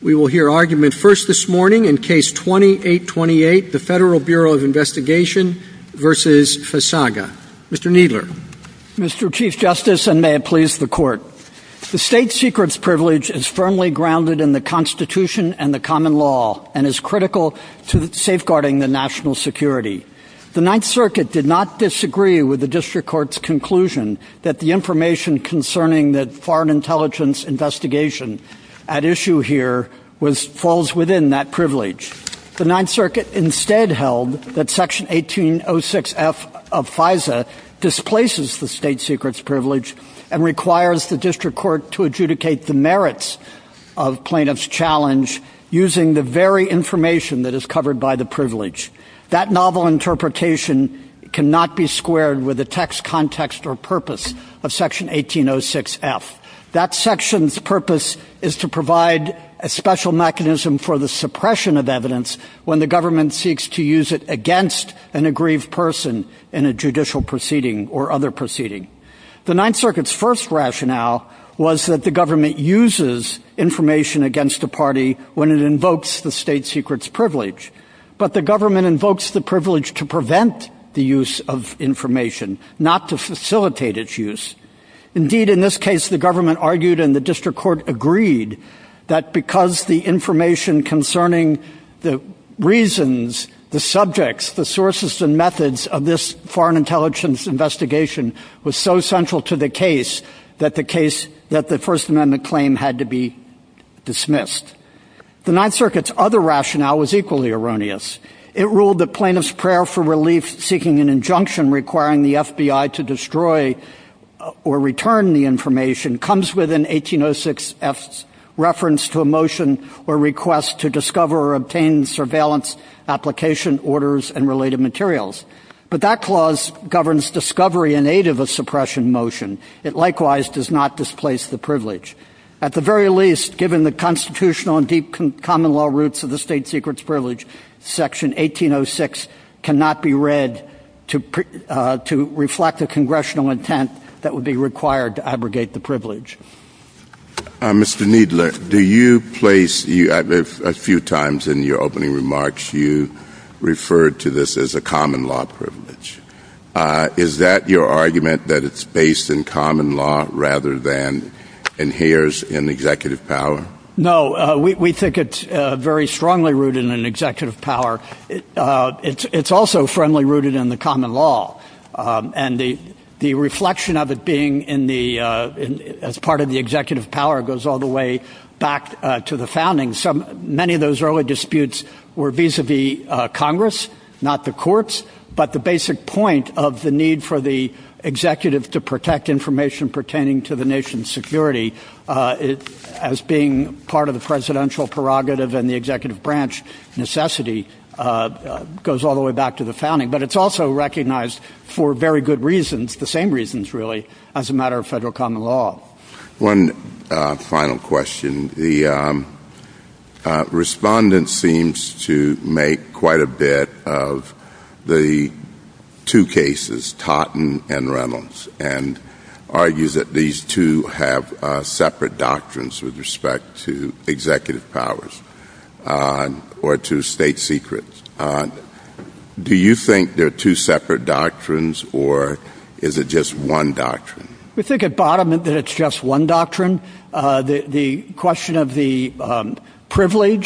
We will hear argument first this morning in case 2828, the Federal Bureau of Investigation v. Fazaga. Mr. Kneedler. Mr. Chief Justice, and may it please the Court, the state secret's privilege is firmly grounded in the Constitution and the common law, and is critical to safeguarding the national security. The Ninth Circuit did not disagree with the District Court's conclusion that the information concerning the foreign intelligence investigation at issue here falls within that privilege. The Ninth Circuit instead held that Section 1806 F of FISA displaces the state secret's privilege and requires the District Court to adjudicate the merits of plaintiff's challenge using the very information that is covered by the privilege. That novel interpretation cannot be squared with the text, context, or purpose of Section 1806 F. That section's purpose is to provide a special mechanism for the suppression of evidence when the government seeks to use it against an aggrieved person in a judicial proceeding or other proceeding. The Ninth Circuit's first rationale was that the government uses information against the party when it invokes the state secret's privilege, but the government invokes the privilege to prevent the use of information, not to facilitate its use. Indeed, in this case, the government argued and the District Court agreed that because the information concerning the reasons, the subjects, the sources, and methods of this foreign intelligence investigation was so central to the case that the case that the First Amendment claimed had to be dismissed. The Ninth Circuit's other rationale was equally erroneous. It ruled that plaintiff's prayer for relief seeking an injunction requiring the FBI to destroy or return the information comes within 1806 F's reference to a motion or request to discover or obtain surveillance application orders and related materials. But that clause governs discovery in suppression motion. It likewise does not displace the privilege. At the very least, given the constitutional and deep common law roots of the state secret's privilege, section 1806 cannot be read to reflect the congressional intent that would be required to abrogate the privilege. Mr. Kneedler, do you place, a few times in your opening remarks, you argument that it's based in common law rather than inheres in the executive power? No, we think it's very strongly rooted in executive power. It's also friendly rooted in the common law. And the reflection of it being in the, as part of the executive power goes all the way back to the founding. Many of those early disputes were vis-a-vis Congress, not the courts, but the basic point of the need for the executive to protect information pertaining to the nation's security as being part of the presidential prerogative and the executive branch necessity goes all the way back to the founding. But it's also recognized for very good reasons, the same reasons really, as a matter of federal common law. One final question. The two cases, Totten and Reynolds, and argue that these two have separate doctrines with respect to executive powers or to state secrets. Do you think they're two separate doctrines or is it just one doctrine? We think at bottom that it's just one doctrine. The question of the proceeding,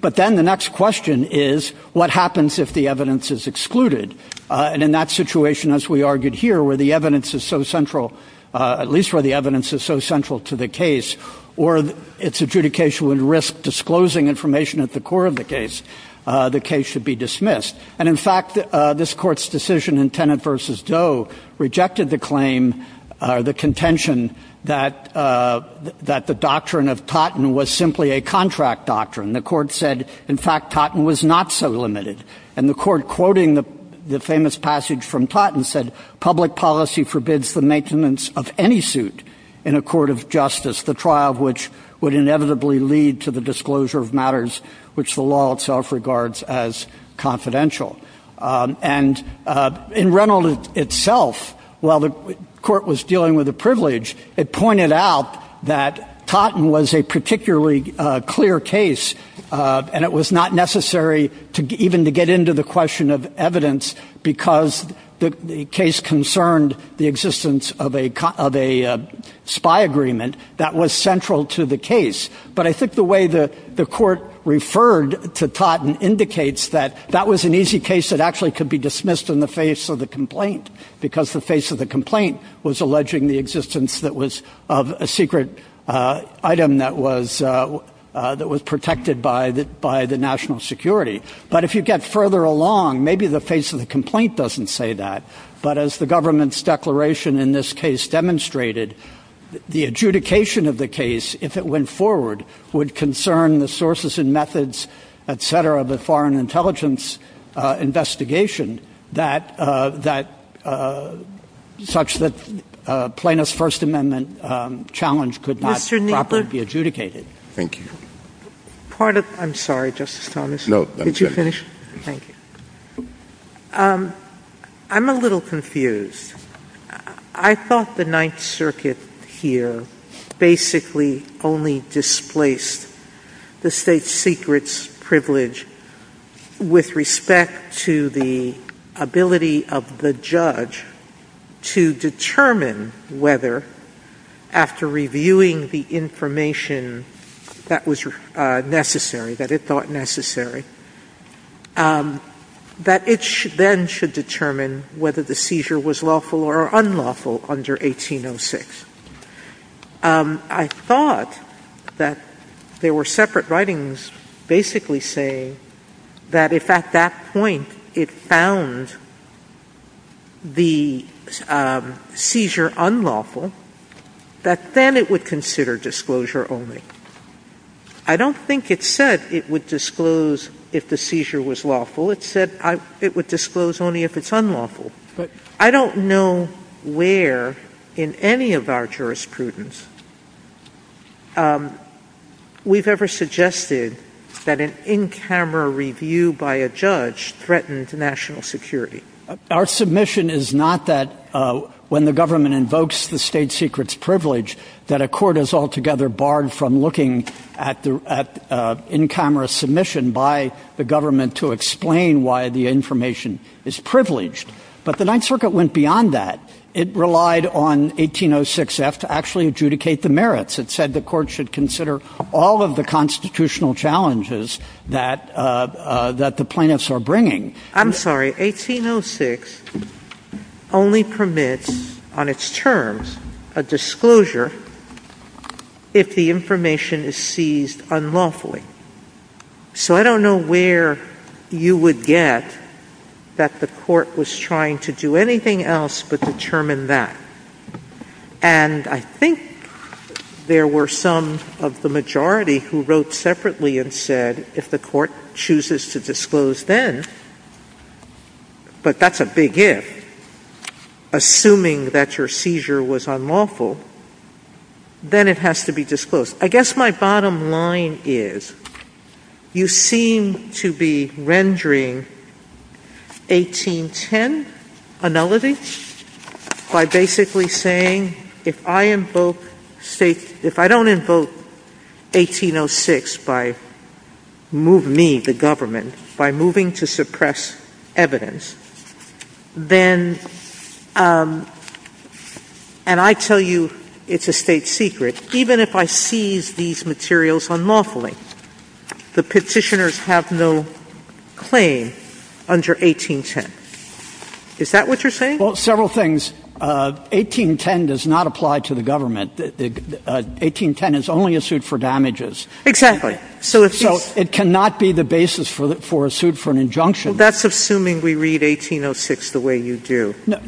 but then the next question is what happens if the evidence is excluded? And in that situation, as we argued here, where the evidence is so central, at least where the evidence is so central to the case, or its adjudication would risk disclosing information at the core of the case, the case should be dismissed. And in fact, this court's decision in Tenet versus Doe rejected the claim, the contention that the doctrine of Totten was simply a contract doctrine. The court said, in fact, Totten was not so limited. And the court quoting the famous passage from Totten said, public policy forbids the maintenance of any suit in a court of justice, the trial of which would inevitably lead to the disclosure of matters which the law itself regards as confidential. And in Reynolds itself, while the court was dealing with the privilege, it pointed out that Totten was a particularly clear case, and it was not necessary even to get into the question of evidence because the case concerned the existence of a spy agreement that was central to the case. But I think the way the court referred to Totten indicates that that was an easy case that actually could be dismissed in the face of the complaint, because the face of the complaint was alleging the existence that was of a secret item that was protected by the national security. But if you get further along, maybe the face of the complaint doesn't say that. But as the government's declaration in this case demonstrated, the adjudication of the case, if it went forward, would concern the sources and methods, et cetera, of a foreign intelligence investigation such that a plaintiff's First Amendment challenge could not properly be adjudicated. Mr. Kneedler? Thank you. I'm sorry, Justice Stoneman. No, that's okay. Did you finish? Thank you. I'm a little confused. I thought the Ninth Circuit here basically only displaced the state secret's privilege with respect to the ability of the judge to determine whether, after reviewing the information that was necessary, that it thought necessary, that it then should determine whether the seizure was lawful or unlawful under 1806. I thought that there were separate writings basically saying that if, at that point, it found the seizure unlawful, that then it would consider disclosure only. I don't think it said it would disclose if the seizure was lawful. It said it would disclose only if it's unlawful. But I don't know where in any of our jurisprudence we've ever suggested that an in-camera review by a judge threatens national security. Our submission is not that when the government invokes the state secret's privilege that a court is altogether barred from looking at the in-camera submission by the government to explain why the information is privileged. But the Ninth Circuit went beyond that. It relied on 1806F to actually adjudicate the merits. It said the court should consider all of the constitutional challenges that the plaintiffs are bringing. I'm sorry. 1806 only permits, on its terms, a disclosure if the information is seized unlawfully. So I don't know where you would get that the court was trying to do anything else but determine that. And I think there were some of the majority who wrote separately and said if the court chooses to disclose then, but that's a big if, assuming that your seizure was unlawful, then it has to be disclosed. I guess my bottom line is you seem to be rendering 1810 a nullity by basically saying if I don't invoke 1806 by me, the government, by moving to it's a state secret, even if I seize these materials unlawfully, the petitioners have no claim under 1810. Is that what you're saying? Well, several things. 1810 does not apply to the government. 1810 is only a suit for damages. Exactly. So it cannot be the basis for a suit for an injunction. That's assuming we read 1806 the way you do. Yes.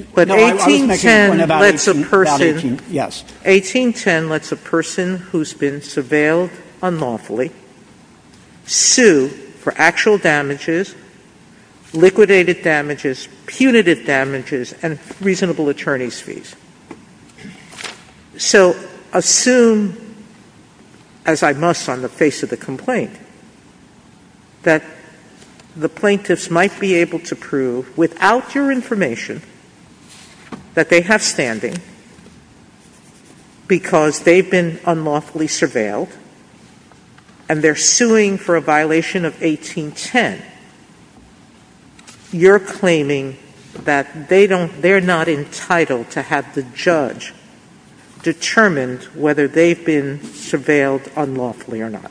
1810 lets a person who's been surveilled unlawfully sue for actual damages, liquidated damages, punitive damages, and reasonable attorney's fees. Yes. So assume, as I must on the face of the complaint, that the plaintiffs might be able to prove without your information that they have standing because they've been unlawfully surveilled and they're suing for a violation of 1810, and you're claiming that they're not entitled to have the judge determine whether they've been surveilled unlawfully or not.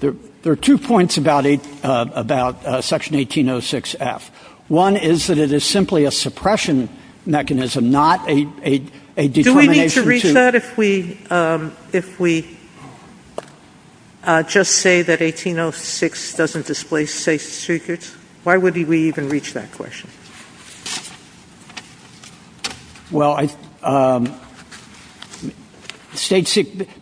There are two points about section 1806F. One is that it is simply a suppression mechanism, not a determination to- Why would we even reach that question? Well,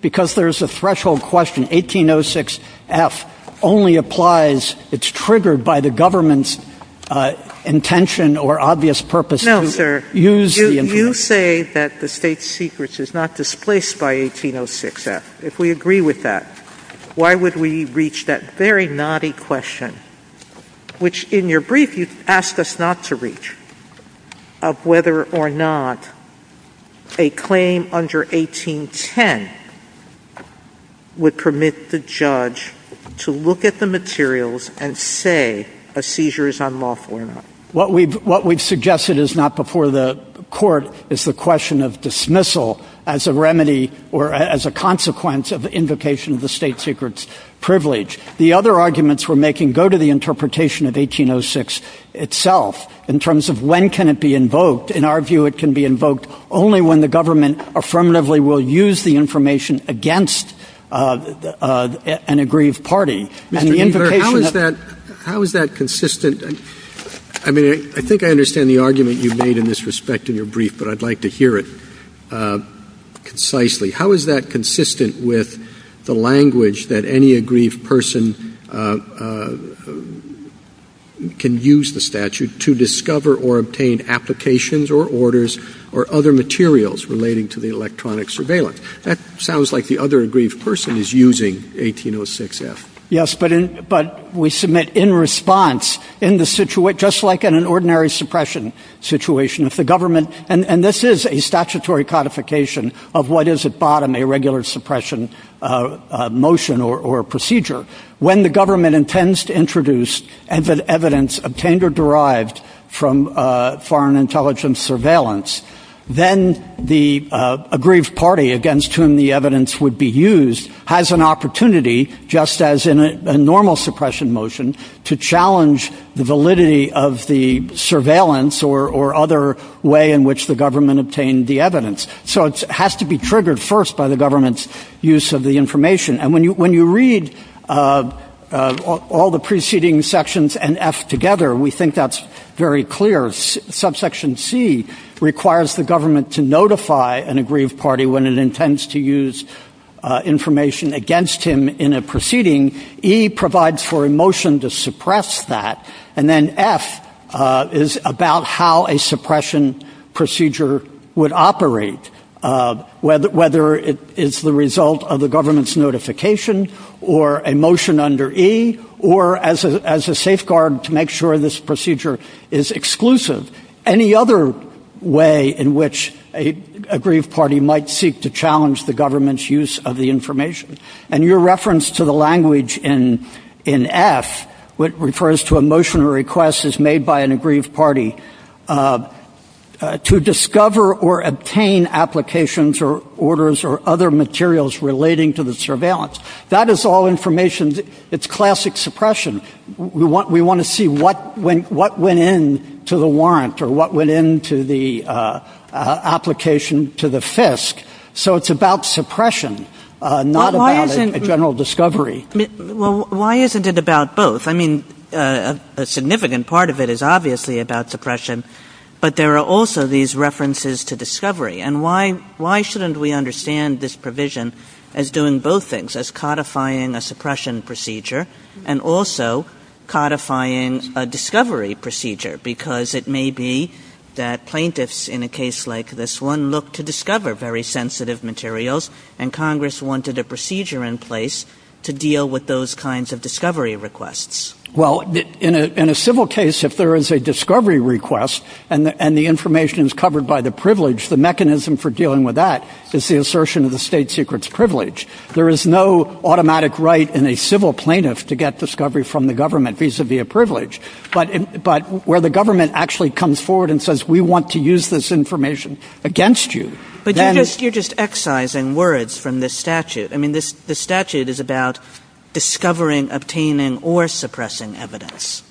because there's a threshold question, 1806F only applies- it's triggered by the government's intention or obvious purpose to use the information. No, sir. You say that the state secrets is not displaced by 1806F. If we agree with that, why would we reach that very naughty question, which in your brief you've asked us not to reach, of whether or not a claim under 1810 would permit the judge to look at the materials and say a seizure is unlawful or not? What we've suggested is not before the court is the question of dismissal as a remedy or as a privilege. The other arguments we're making go to the interpretation of 1806 itself in terms of when can it be invoked. In our view, it can be invoked only when the government affirmatively will use the information against an aggrieved party. How is that consistent? I mean, I think I understand the argument you made in this respect in your brief, but I'd like to hear it concisely. How is that consistent with the language that any aggrieved person can use the statute to discover or obtain applications or orders or other materials relating to the electronic surveillance? That sounds like the other aggrieved person is using 1806F. Yes, but we submit in response in the situation, just like in an ordinary suppression situation, if the government, and this is a statutory codification of what is at bottom, a regular suppression motion or procedure, when the government intends to introduce evidence obtained or derived from foreign intelligence surveillance, then the aggrieved party against whom the evidence would be used has an opportunity, just as in a normal suppression motion, to challenge the validity of the surveillance or other way in which the government obtained the evidence. So it has to be triggered first by the government's use of the information. And when you read all the preceding sections and F together, we think that's very clear. Subsection C requires the government to notify an aggrieved party when it intends to use information against him in a proceeding. E provides for a motion to suppress that. And then F is about how a suppression procedure would operate, whether it is the result of the government's notification or a motion under E or as a safeguard to make sure this procedure is exclusive. Any other way in which an aggrieved party might seek to challenge the government's of the information. And your reference to the language in F, what refers to a motion or request is made by an aggrieved party to discover or obtain applications or orders or other materials relating to the surveillance. That is all information. It's classic suppression. We want to see what went in to the warrant or what went into the application to the FISC. So it's about suppression, not about a general discovery. Well, why isn't it about both? I mean, a significant part of it is obviously about suppression, but there are also these references to discovery. And why shouldn't we understand this provision as doing both things, as codifying a suppression procedure and also codifying a discovery procedure? Because it may be that plaintiffs in a case like this one look to discover very sensitive materials, and Congress wanted a procedure in place to deal with those kinds of discovery requests. Well, in a civil case, if there is a discovery request and the information is covered by the privilege, the mechanism for dealing with that is the assertion of the state secret's privilege. There is no automatic right in a civil plaintiff to get discovery from the government vis-a-vis privilege, but where the government actually comes forward and says, we want to use this information against you. But you're just excising words from this statute. I mean, the statute is about discovering, obtaining, or suppressing evidence.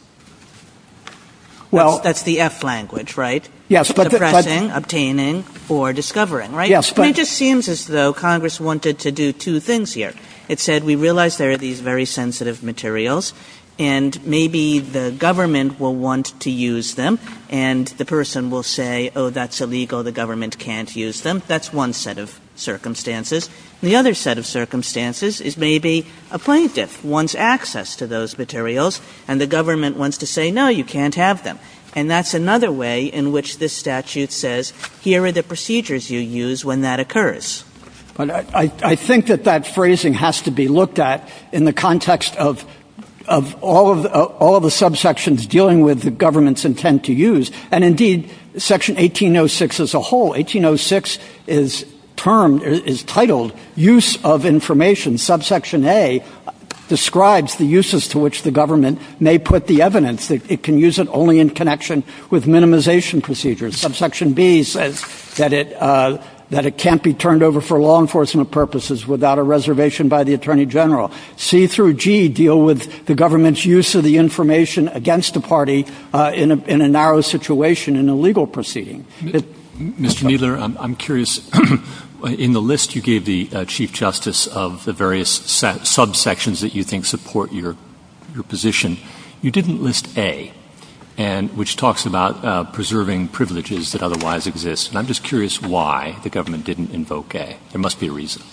Well, that's the F language, right? Suppressing, obtaining, or discovering, right? It just seems as though Congress wanted to do two things here. It said, we realize there are these very sensitive materials, and maybe the government will want to use them, and the person will say, oh, that's illegal. The government can't use them. That's one set of circumstances. The other set of circumstances is maybe a plaintiff wants access to those materials, and the government wants to say, no, you can't have them. And that's another way in which this statute says, here are the procedures you use when that occurs. I think that that phrasing has to be looked at in the context of all of the subsections dealing with the government's intent to use. And indeed, Section 1806 as a whole, 1806 is termed, is titled, Use of Information. Subsection A describes the uses to which the government may put the evidence. It can use it only in connection with minimization procedures. Subsection B says that it can't be turned over for law enforcement purposes without a reservation by the Attorney General. C through G deal with the government's use of the information against the party in a narrow situation, in a legal proceeding. Mr. Kneedler, I'm curious, in the list you gave the Chief Justice of the various subsections that you think support your position, you didn't list A, which talks about preserving privileges that otherwise exist. And I'm just curious why the government didn't invoke A. There must be a reason.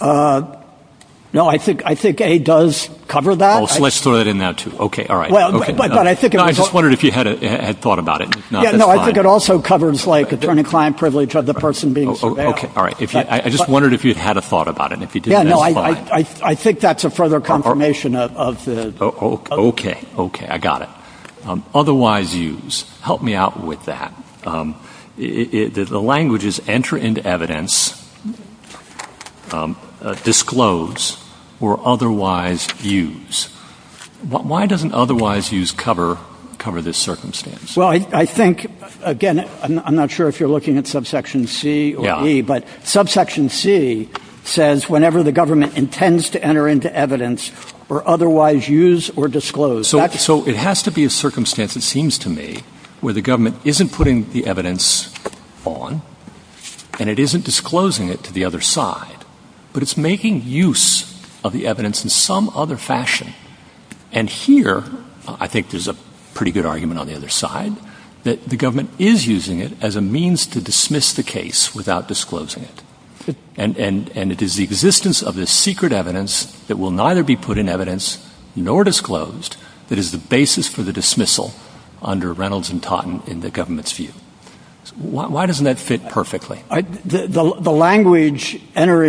No, I think A does cover that. Oh, so let's throw that in there, too. Okay, all right. Well, but I think- I just wondered if you had thought about it. Yeah, no, I think it also covers, like, attorney-client privilege of the person being surveilled. Okay, all right. I just wondered if you'd had a thought about it, and if you didn't, that's fine. I think that's a further confirmation of the- Okay, okay, I got it. Otherwise use, help me out with that. The language is, enter into evidence, disclose, or otherwise use. Why doesn't otherwise use cover this circumstance? Well, I think, again, I'm not sure if you're looking at subsection C or E, but subsection C says whenever the government intends to enter into evidence or otherwise use or disclose. So it has to be a circumstance, it seems to me, where the government isn't putting the evidence on, and it isn't disclosing it to the other side, but it's making use of the evidence in some other fashion. And here, I think there's a pretty good argument on the other side, that the government is using it as a means to dismiss the case without disclosing it. And it is the existence of this secret evidence that will neither be put in evidence nor disclosed that is the basis for the dismissal under Reynolds and Totten in the government's view. Why doesn't that fit perfectly? The language, enter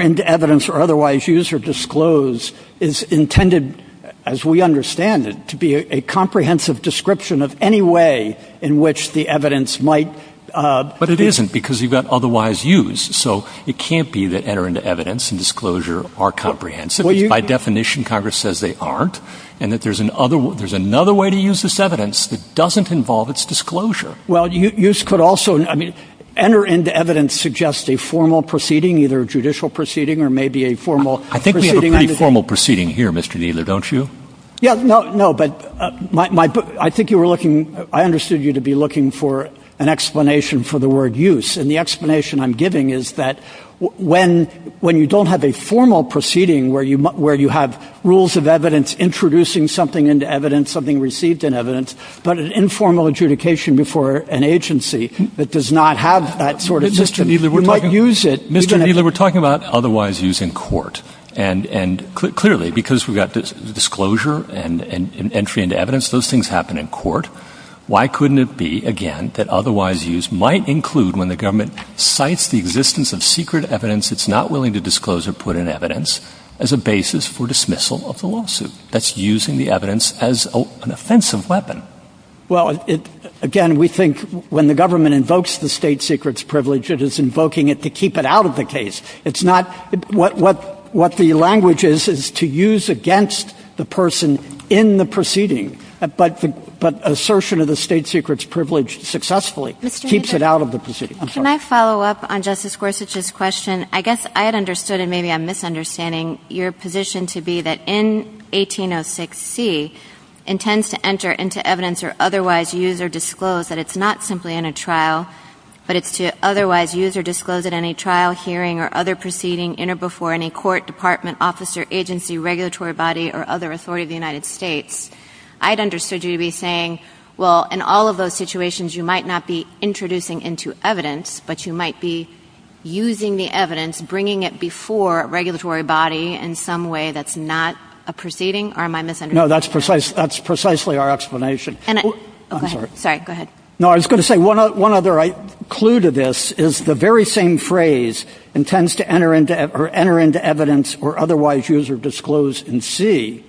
into evidence or otherwise use or disclose, is intended, as we understand it, to be a comprehensive description of any way in which the evidence might... But it isn't, because you've got otherwise use. So it can't be that enter into evidence and disclosure are comprehensive. By definition, Congress says they aren't, and that there's another way to use this evidence that doesn't involve its disclosure. Well, use could also... I mean, enter into evidence suggests a formal proceeding, either a judicial proceeding or maybe a formal... I think we have a pretty formal proceeding here, Mr. Kneeler, don't you? Yeah, no, but I think you were looking... I understood you to be looking for an explanation for the word use. And the explanation I'm giving is that when you don't have a formal proceeding where you have rules of evidence introducing something into evidence, something received in evidence, but an informal adjudication before an agency that does not have that sort of system, we might use it... Mr. Kneeler, we're talking about otherwise use in court. And clearly, because we've got disclosure and entry into evidence, those things happen in court. Why couldn't it be, again, that otherwise use might include when the government cites the existence of secret evidence it's not willing to disclose or put in evidence as a basis for dismissal of the lawsuit? That's using the evidence as an offensive weapon. Well, again, we think when the government invokes the state secrets privilege, it is invoking it to keep it out of the case. It's not... What the language is, is to use against the person in the proceeding. But assertion of the state secrets privilege successfully keeps it out of the proceeding. Can I follow up on Justice Gorsuch's question? I guess I had understood, and maybe I'm misunderstanding, your position to be that in 1806C intends to enter into evidence or otherwise use or disclose that it's not simply in a trial, but it's to otherwise use or disclose it in a trial hearing or other proceeding in or before any court, department, officer, agency, regulatory body, or other authority of the United States. I'd understood you to be saying, well, in all of those situations, you might not be introducing into evidence, but you might be using the evidence, bringing it before a regulatory body in some way that's not a proceeding? Or am I misunderstanding? No, that's precisely our explanation. I'm sorry. Sorry. Go ahead. No, I was going to say one other clue to this is the very same phrase, intends to enter into evidence or otherwise use or disclose in C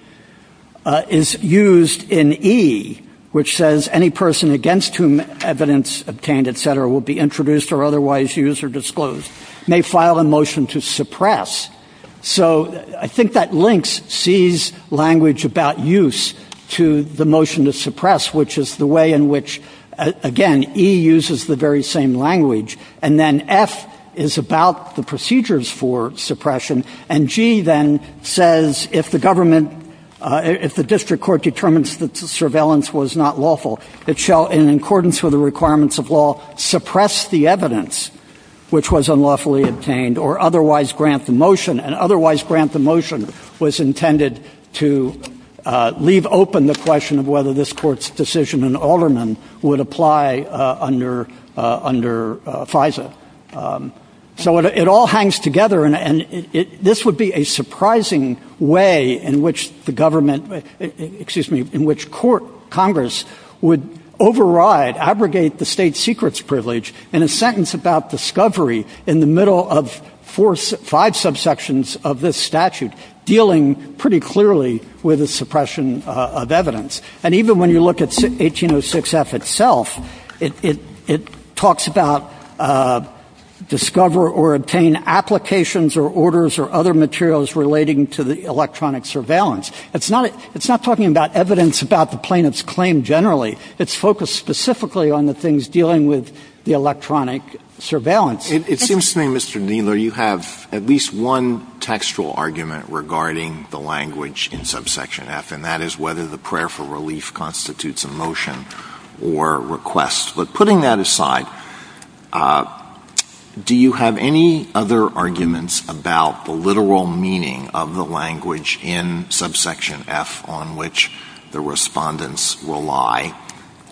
is used in E, which says any person against whom evidence obtained, et cetera, will be introduced or otherwise use or disclose may file a motion to suppress. So I think that links C's language about use to the motion to again, E uses the very same language. And then F is about the procedures for suppression. And G then says, if the government, if the district court determines that the surveillance was not lawful, it shall in accordance with the requirements of law, suppress the evidence, which was unlawfully obtained or otherwise grant the motion and otherwise grant the motion was intended to leave open the question of whether this court's decision in Alderman would apply under FISA. So it all hangs together. And this would be a surprising way in which the government, excuse me, in which court Congress would override, abrogate the state secrets privilege in a sentence about discovery in the middle of five subsections of this statute, dealing pretty clearly with the suppression of evidence. And even when you look at 1806 F itself, it, it, it talks about discover or obtain applications or orders or other materials relating to the electronic surveillance. It's not, it's not talking about evidence about the plaintiff's claim generally, it's focused specifically on the things dealing with the electronic surveillance. It seems to me, Mr. Kneedler, you have at least one textual argument regarding the language in subsection F and that is whether the prayer for relief constitutes a motion or request. But putting that aside, do you have any other arguments about the literal meaning of the language in subsection F on which the respondents rely?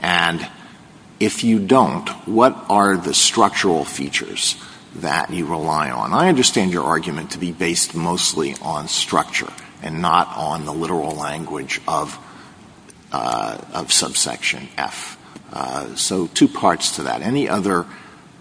And if you don't, what are the structural features that you rely on? I understand your argument to be based mostly on structure and not on the literal language of, of subsection F. So two parts to that. Any other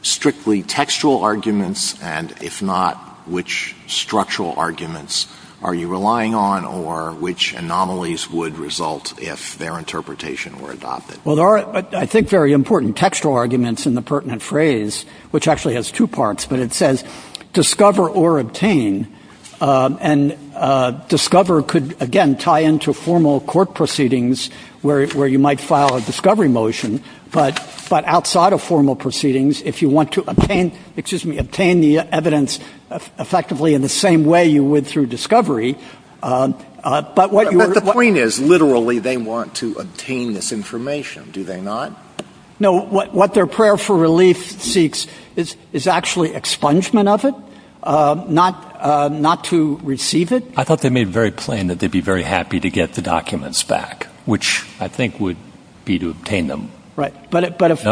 strictly textual arguments and if not, which structural arguments are you relying on or which anomalies would result if their interpretation were adopted? Well, there are, I think, very important textual arguments in the pertinent phrase, which actually has two parts, but it says discover or obtain. And discover could, again, tie into formal court proceedings where, where you might file a discovery motion, but, but outside of formal proceedings, if you want to obtain, excuse me, obtain the evidence effectively in the same way you would through discovery. But the point is literally they want to obtain this information, do they not? No, what, what their prayer for relief seeks is, is actually expungement of it, not, not to receive it. I thought they made it very plain that they'd be very happy to get the documents back, which I think would be to obtain them. Right, but, but if,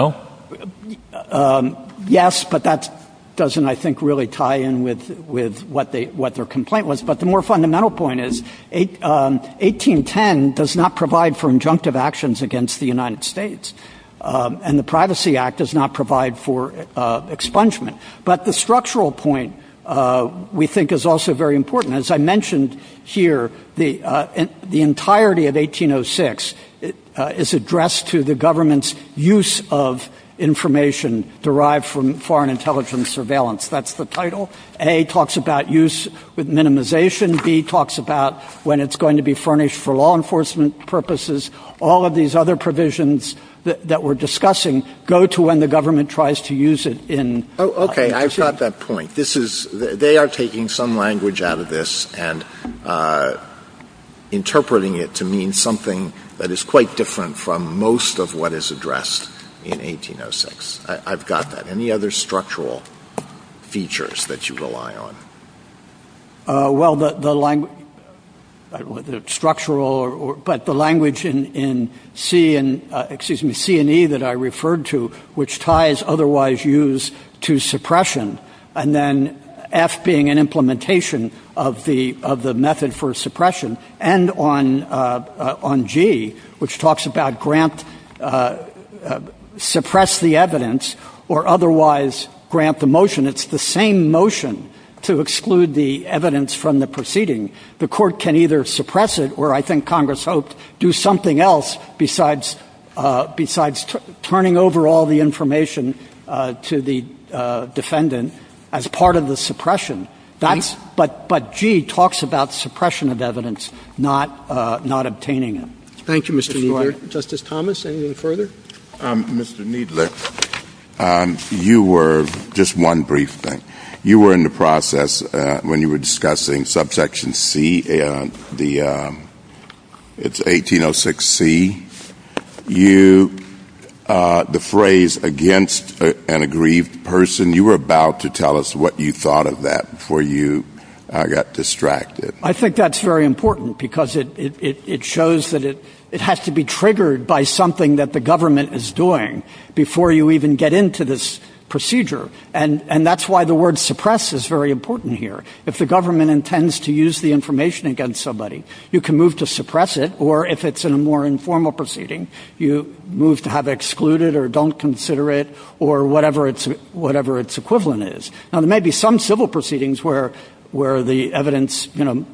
yes, but that doesn't, I think, really tie in with, with what they, what their complaint was. But the more fundamental point is 1810 does not provide for injunctive actions against the United States, and the Privacy Act does not provide for expungement. But the structural point we think is also very important. As I mentioned here, the, the entirety of 1806 is addressed to the government's use of information derived from foreign intelligence surveillance. That's the title. A talks about use with minimization. B talks about when it's going to be furnished for law enforcement purposes. All of these other provisions that we're discussing go to when the government tries to use it in... Okay, I've got that point. This is, they are taking some language out of this and interpreting it to mean something that is quite different from most of what is addressed in 1806. I've got that. Any other structural features that you rely on? Well, the language, the structural, but the language in C and, excuse me, C and E that I referred to, which ties otherwise use to suppression, and then F being an implementation of the, of the method for suppression, and on, on G, which talks about grant, suppress the evidence or otherwise grant the motion. It's the same motion to exclude the evidence from the proceeding. The court can either suppress it, or I think Congress hoped do something else besides, besides turning over all the information to the defendant as part of the suppression. That's, but, but G talks about suppression of evidence, not, not obtaining it. Thank you, Mr. Kneedler. Justice Thomas, anything further? Mr. Kneedler, you were, just one brief thing. You were in the process when you were discussing subsection C, the, it's 1806C. You, the phrase against an aggrieved person, you were about to tell us what you thought of that before you got distracted. I think that's very important, because it, it, it shows that it, it has to be triggered by something that the government is doing before you even get into this procedure. And, and that's why the word suppress is very important. If the government intends to use the information against somebody, you can move to suppress it, or if it's in a more informal proceeding, you move to have it excluded or don't consider it, or whatever it's, whatever its equivalent is. Now, there may be some civil proceedings where, where the evidence, you know,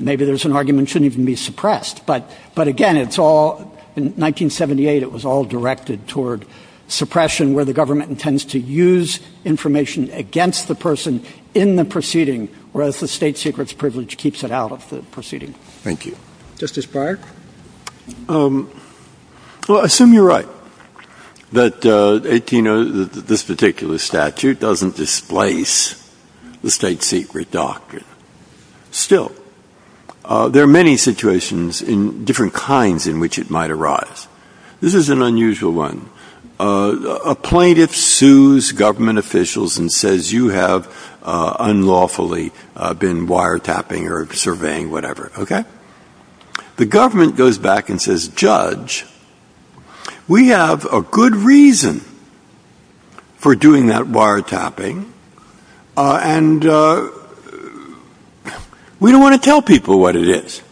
maybe there's an argument it shouldn't even be suppressed, but, but again, it's all, in 1978, it was all directed toward suppression where the privilege keeps it out of the proceeding. Thank you. Justice Breyer. Well, I assume you're right, that it, you know, this particular statute doesn't displace the state secret doctrine. Still, there are many situations in different kinds in which it might arise. This is an unusual one. A plaintiff sues government officials and says, you have unlawfully been wiretapping or surveying, whatever, okay. The government goes back and says, Judge, we have a good reason for doing that wiretapping. And we don't want to tell people what it is.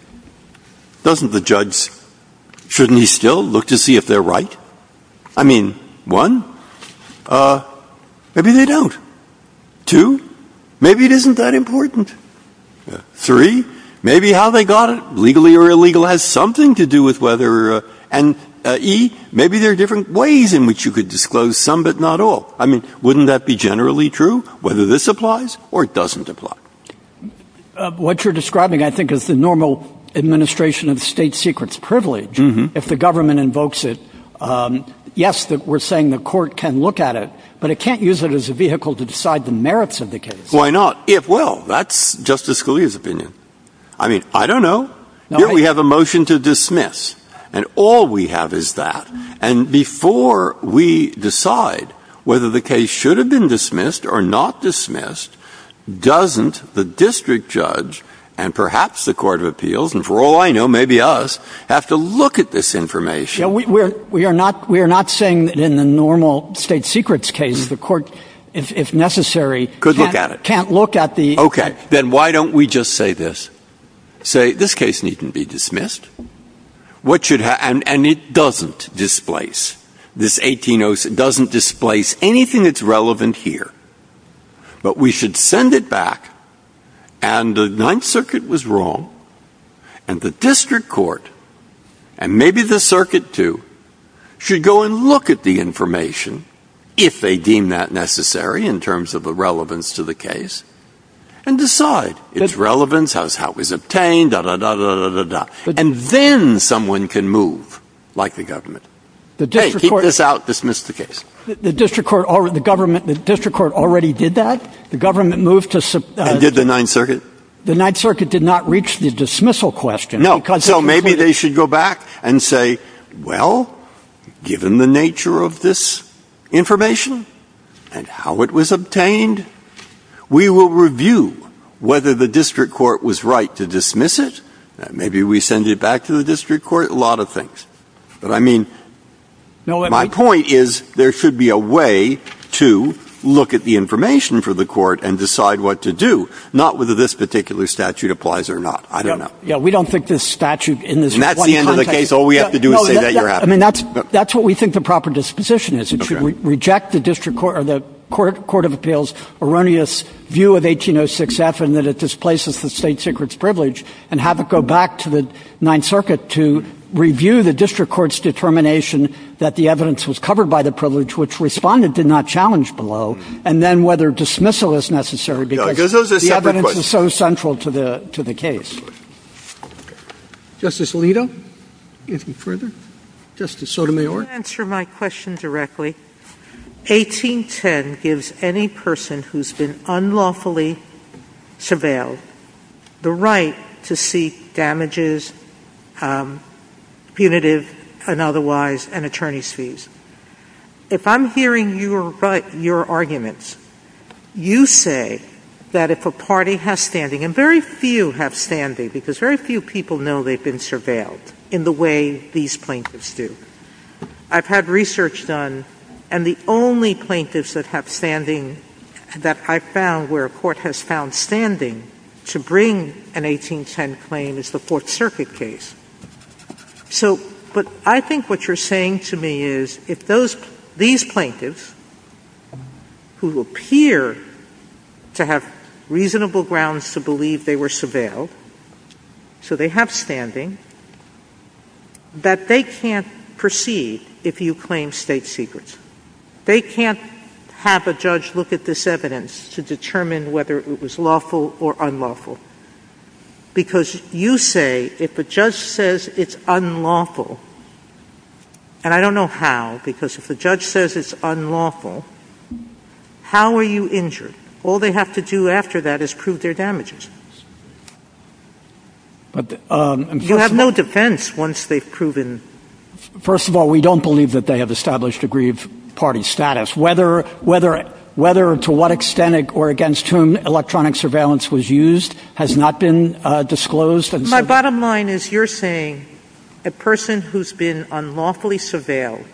Doesn't the judge, shouldn't he still look to see if they're right? I mean, one, maybe they don't. Two, maybe it isn't that important. Three, maybe how they got it, legally or illegal, has something to do with whether, and E, maybe there are different ways in which you could disclose some but not all. I mean, wouldn't that be generally true, whether this applies or it doesn't apply? What you're describing, I think, is the normal administration of state secrets privilege. If the government invokes it, yes, that we're saying the court can look at it, but it can't use it as a vehicle to decide the merits of the case. Why not? If, well, that's Justice Scalia's opinion. I mean, I don't know. We have a motion to dismiss. And all we have is that. And before we decide whether the case should have been the district judge and perhaps the Court of Appeals, and for all I know, maybe us, have to look at this information. We are not saying that in the normal state secrets case, the court, if necessary, can't look at it. Okay, then why don't we just say this? Say this case needs to be dismissed. And it doesn't displace. This 18-0 doesn't displace anything that's relevant here. But we should send it back. And the Ninth Circuit was wrong. And the district court, and maybe the circuit too, should go and look at the information, if they deem that necessary in terms of the relevance to the case, and decide its relevance, how it was obtained, da-da-da-da-da-da-da. And then someone can move, like the government. Hey, keep this out. Dismiss the case. The district court already did that. The government moved to... And did the Ninth Circuit. The Ninth Circuit did not reach the dismissal question. No. So maybe they should go back and say, well, given the nature of this information and how it was obtained, we will review whether the district court was right to dismiss it. Maybe we send it back to the district court. A lot of things. But I mean, my point is there should be a way to look at the information for the court and decide what to do, not whether this particular statute applies or not. I don't know. Yeah. We don't think this statute in this... And that's the end of the case. All we have to do is say that you're happy. I mean, that's what we think the proper disposition is. Reject the court of appeals' erroneous view of 18-0-6-F and that it displaces the state secret's privilege, and have it go back to the Ninth Circuit to review the district court's determination that the evidence was covered by the privilege, which Respondent did not challenge below, and then whether dismissal is necessary, because the evidence is so central to the case. Justice Alito, anything further? Justice Sotomayor? Let me answer my question directly. 18-10 gives any person who's been unlawfully surveilled the right to seek damages, punitive and otherwise, and attorney's fees. If I'm hearing your arguments, you say that if a party has standing, and very few have standing, because very few people know they've been surveilled in the way these plaintiffs do. I've had research done, and the only plaintiffs that have standing that I've found where a court has found standing to bring an 18-10 claim is the Fourth Circuit case. So, I think what you're saying to me is, if these plaintiffs who appear to have reasonable grounds to believe they were surveilled, so they have standing, that they can't proceed if you claim state secrets. They can't have a judge look at this evidence to determine whether it was lawful or unlawful, because you say if the judge says it's unlawful, and I don't know how, because if the judge says it's unlawful, how are you injured? All they have to do after that is prove their damages. You'll have no defense once they've proven... First of all, we don't believe that they have established a grieve party status. Whether to what extent or against whom electronic surveillance was used has not been disclosed. My bottom line is, you're saying a person who's been unlawfully surveilled,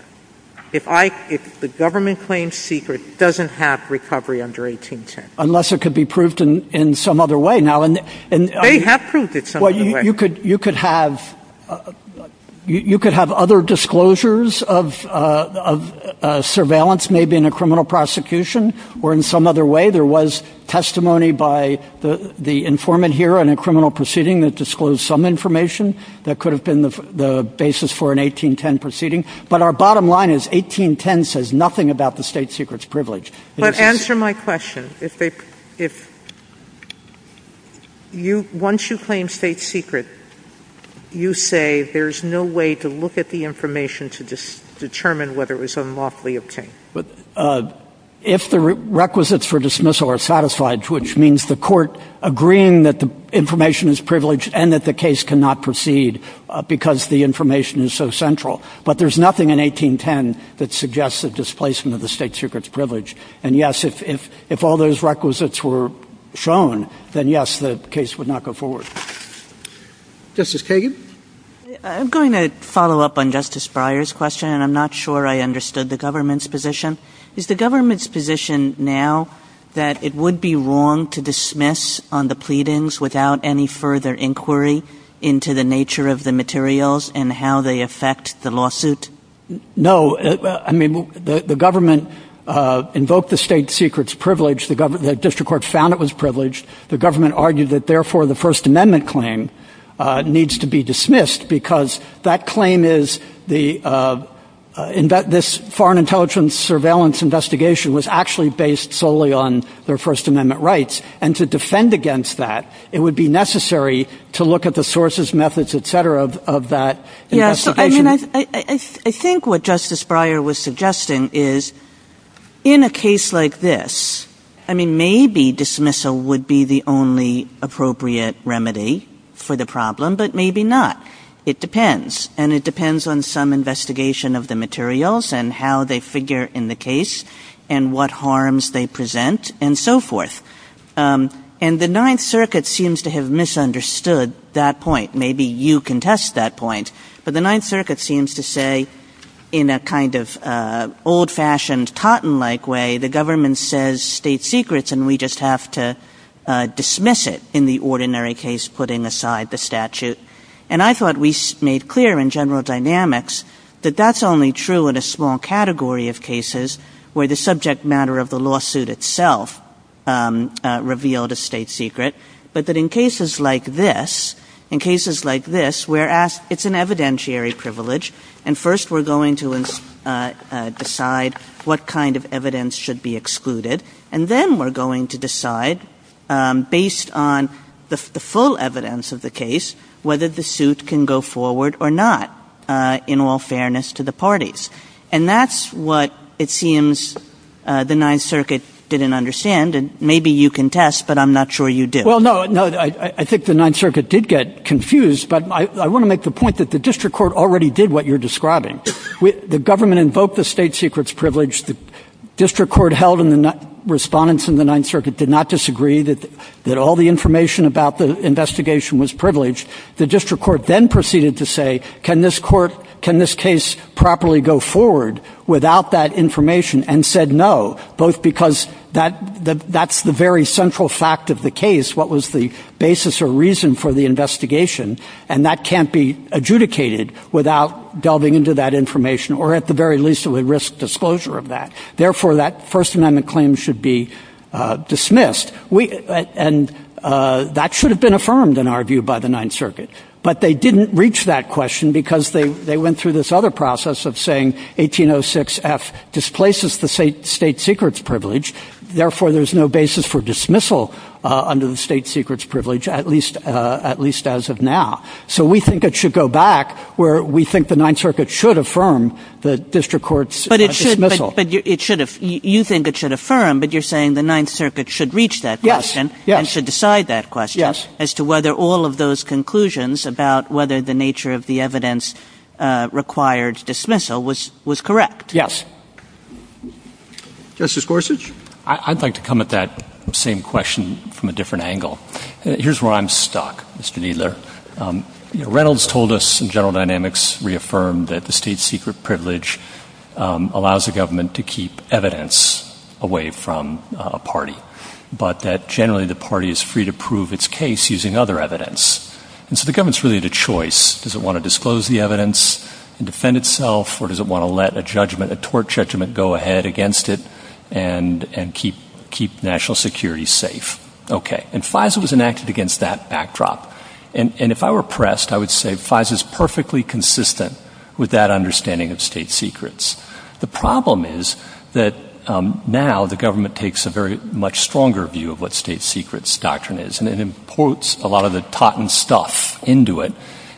if the government claims secret, doesn't have recovery under 18-10. Unless it could be proved in some other way. They have proved it some other way. Well, you could have other disclosures of surveillance, maybe in a criminal prosecution, or in some other way. There was testimony by the informant here in a criminal proceeding that disclosed some information that could have been the basis for an 18-10 proceeding. But our bottom line is, 18-10 says nothing about the state secrets privilege. But answer my question. Once you claim state secret, you say there's no way to look at the information to determine whether it was unlawfully obtained? If the requisites for dismissal are satisfied, which means the court agreeing that the information is privileged and that the case cannot proceed because the information is so central. But there's nothing in 18-10 that suggests a displacement of the state secrets privilege. And yes, if all those requisites were shown, then yes, the case would not go forward. Justice Kagan? I'm going to follow up on Justice Breyer's question, and I'm not sure I understood the government's position. Is the government's position now that it would be wrong to dismiss on the pleadings without any further inquiry into the nature of the materials and how they affect the lawsuit? No. I mean, the government invoked the state secrets privilege. The district court found it was privileged. The government argued that, therefore, the First Amendment claim needs to be dismissed because that claim is that this foreign intelligence surveillance investigation was actually based solely on their First Amendment rights. And to defend against that, it would be necessary to look at the sources, methods, et cetera, of that. Yes. I mean, I think what Justice Breyer was suggesting is in a case like this, I mean, maybe dismissal would be the only appropriate remedy for the problem, but maybe not. It depends. And it depends on some investigation of the materials and how they figure in the case and what harms they present and so forth. And the Ninth Circuit seems to have misunderstood that point. Maybe you contest that point. But the Ninth Circuit seems to say in a kind of old-fashioned, Totten-like way, the government says state secrets and we just have to dismiss it in the ordinary case, putting aside the statute. And I thought we made clear in General Dynamics that that's only true in a small category of cases where the subject matter of the lawsuit itself revealed a state secret. But that in cases like this, in cases like this, it's an evidentiary privilege. And first we're going to decide what kind of evidence should be excluded. And then we're going to decide based on the full evidence of the case whether the suit can go forward or not, in all fairness to the parties. And that's what it seems the Ninth Circuit didn't understand. And maybe you contest, but I'm not sure you did. Well, no, I think the Ninth Circuit did get confused. But I want to make the point that the District Court already did what you're describing. The government invoked the state secrets privilege. The District Court held and the respondents in the Ninth Circuit did not disagree that all the information about the investigation was privileged. The District Court then proceeded to say, can this court, can this case properly go forward without that information, and said no, both because that's the very central fact of the case, what was the basis or reason for the investigation. And that can't be adjudicated without delving into that information or at the very least a risk disclosure of that. Therefore, that First Amendment claim should be dismissed. And that should have been affirmed in our Ninth Circuit. But they didn't reach that question because they went through this other process of saying 1806 F displaces the state secrets privilege. Therefore, there's no basis for dismissal under the state secrets privilege, at least as of now. So we think it should go back where we think the Ninth Circuit should affirm the District Court's dismissal. But you think it should affirm, but you're saying the Ninth Circuit should reach that question and should decide that question as to whether all of those conclusions about whether the nature of the evidence required dismissal was correct. Yes. Justice Gorsuch? I'd like to come at that same question from a different angle. Here's where I'm stuck, Mr. Kneedler. Reynolds told us in General Dynamics reaffirmed that the state secret privilege allows the government to keep evidence away from a party, but that generally the party is free to prove its case using other evidence. And so the government's really the choice. Does it want to disclose the evidence and defend itself? Or does it want to let a judgment, a tort judgment go ahead against it and keep national security safe? Okay. And FISA was enacted against that backdrop. And if I were pressed, I would say FISA is perfectly consistent with that understanding of state secrets. The problem is that now the government takes a very much stronger view of what state secrets doctrine is, and it imports a lot of the Totten stuff into it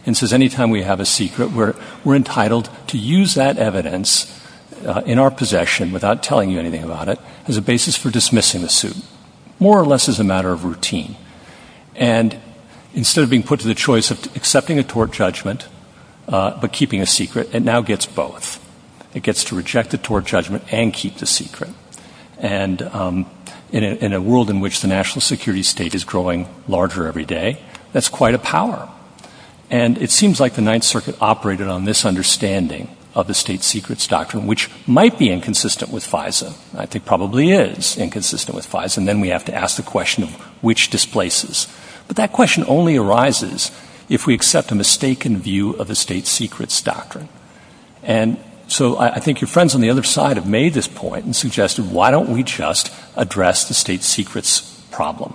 and says, anytime we have a secret, we're entitled to use that evidence in our possession without telling you anything about it as a basis for dismissing the suit, more or less as a matter of routine. And instead of being put to the choice of accepting a tort judgment, but keeping a secret, it now gets both. It gets to reject the tort judgment and keep the secret. And in a world in which the national security state is growing larger every day, that's quite a power. And it seems like the Ninth Circuit operated on this understanding of the state secrets doctrine, which might be inconsistent with FISA. I think probably is inconsistent with FISA. And then we have to ask the question of which displaces. But that question only arises if we accept the mistaken view of the state secrets doctrine. And so I think your friends on the other side have made this point and suggested, why don't we just address the state secrets problem